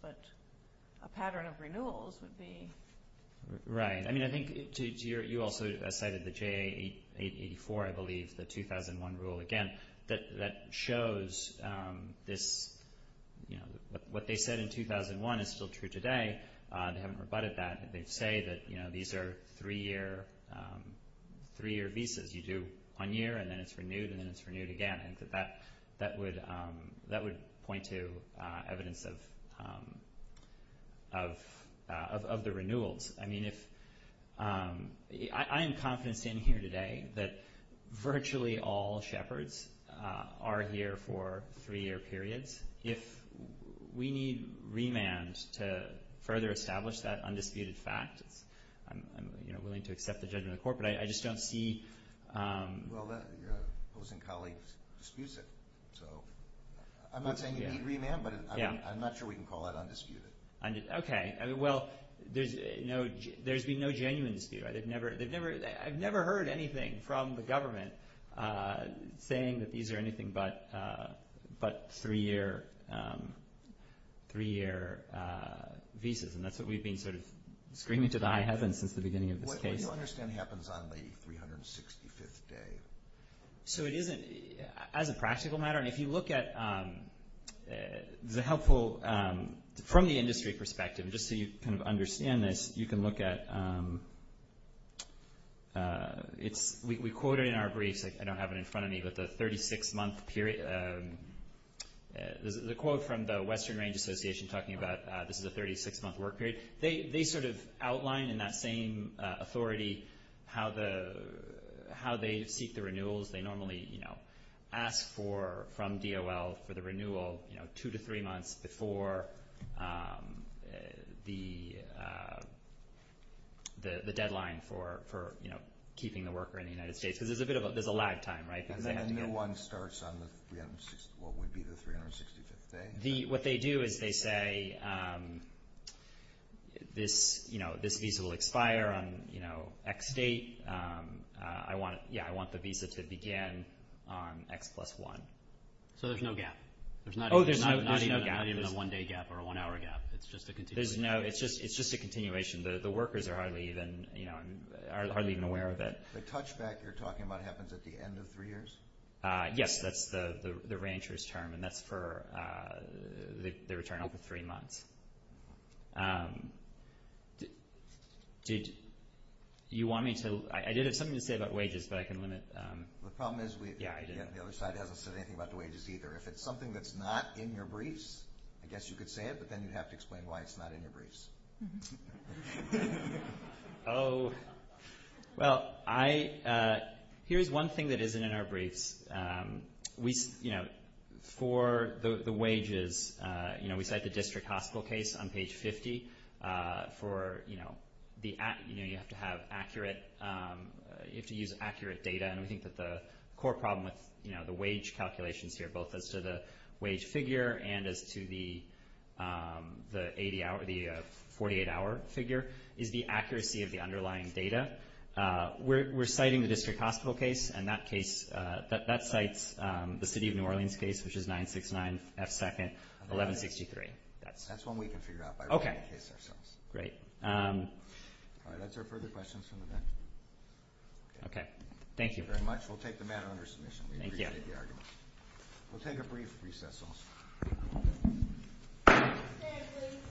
but a pattern of renewals would be. Right. I mean, I think you also cited the JA-884, I believe, the 2001 rule. Again, that shows what they said in 2001 is still true today. They haven't rebutted that. They say that these are three-year visas. You do one year and then it's renewed and then it's renewed again. I think that that would point to evidence of the renewals. I mean, I am confident standing here today that virtually all shepherds are here for three-year periods. If we need remand to further establish that undisputed fact, I'm willing to accept the judge in the court, but I just don't see... Well, your opposing colleague disputes it. I'm not saying we need remand, but I'm not sure we can call that undisputed. Okay. Well, there's been no genuine dispute. I've never heard anything from the government saying that these are anything but three-year visas, and that's what we've been sort of screaming to the high heavens since the beginning of the case. I don't understand what happens on the 365th day. So it isn't as a practical matter. And if you look at the helpful, from the industry perspective, just so you can understand this, you can look at... We quoted in our briefs, I don't have it in front of me, but the 36-month period, the quote from the Western Range Association talking about this is a 36-month work period, they sort of outline in that same authority how they seek the renewals. They normally ask from DOL for the renewal two to three months before the deadline for keeping the worker in the United States. So there's a bit of a lag time, right? And then a new one starts on what would be the 365th day? What they do is they say this visa will expire on X date. Yeah, I want the visa to begin on X plus one. So there's no gap. Oh, there's not even a gap. Not even a one-day gap or a one-hour gap. It's just a continuation. It's just a continuation. The workers are hardly even aware of it. The touchback you're talking about happens at the end of three years? Yes, that's the rancher's term, and that's for the return over three months. Do you want me to – I did have something to say about wages, but I can limit – The problem is the other side hasn't said anything about the wages either. If it's something that's not in your briefs, I guess you could say it, but then you'd have to explain why it's not in your briefs. Oh, well, I – here's one thing that isn't in our briefs. We – for the wages, we cite the district hospital case on page 50 for the – you have to have accurate – you have to use accurate data, and I think that the core problem with the wage calculations here, both as to the wage figure and as to the 48-hour figure, is the accuracy of the underlying data. We're citing the district hospital case, and that case – that cites the city of New Orleans case, which is 969 F2nd 1163. That's one we can figure out by rolling the case ourselves. Okay, great. Are there further questions on the line? Okay, thank you very much. We'll take the matter under submission. Thank you. We'll take a brief recess also.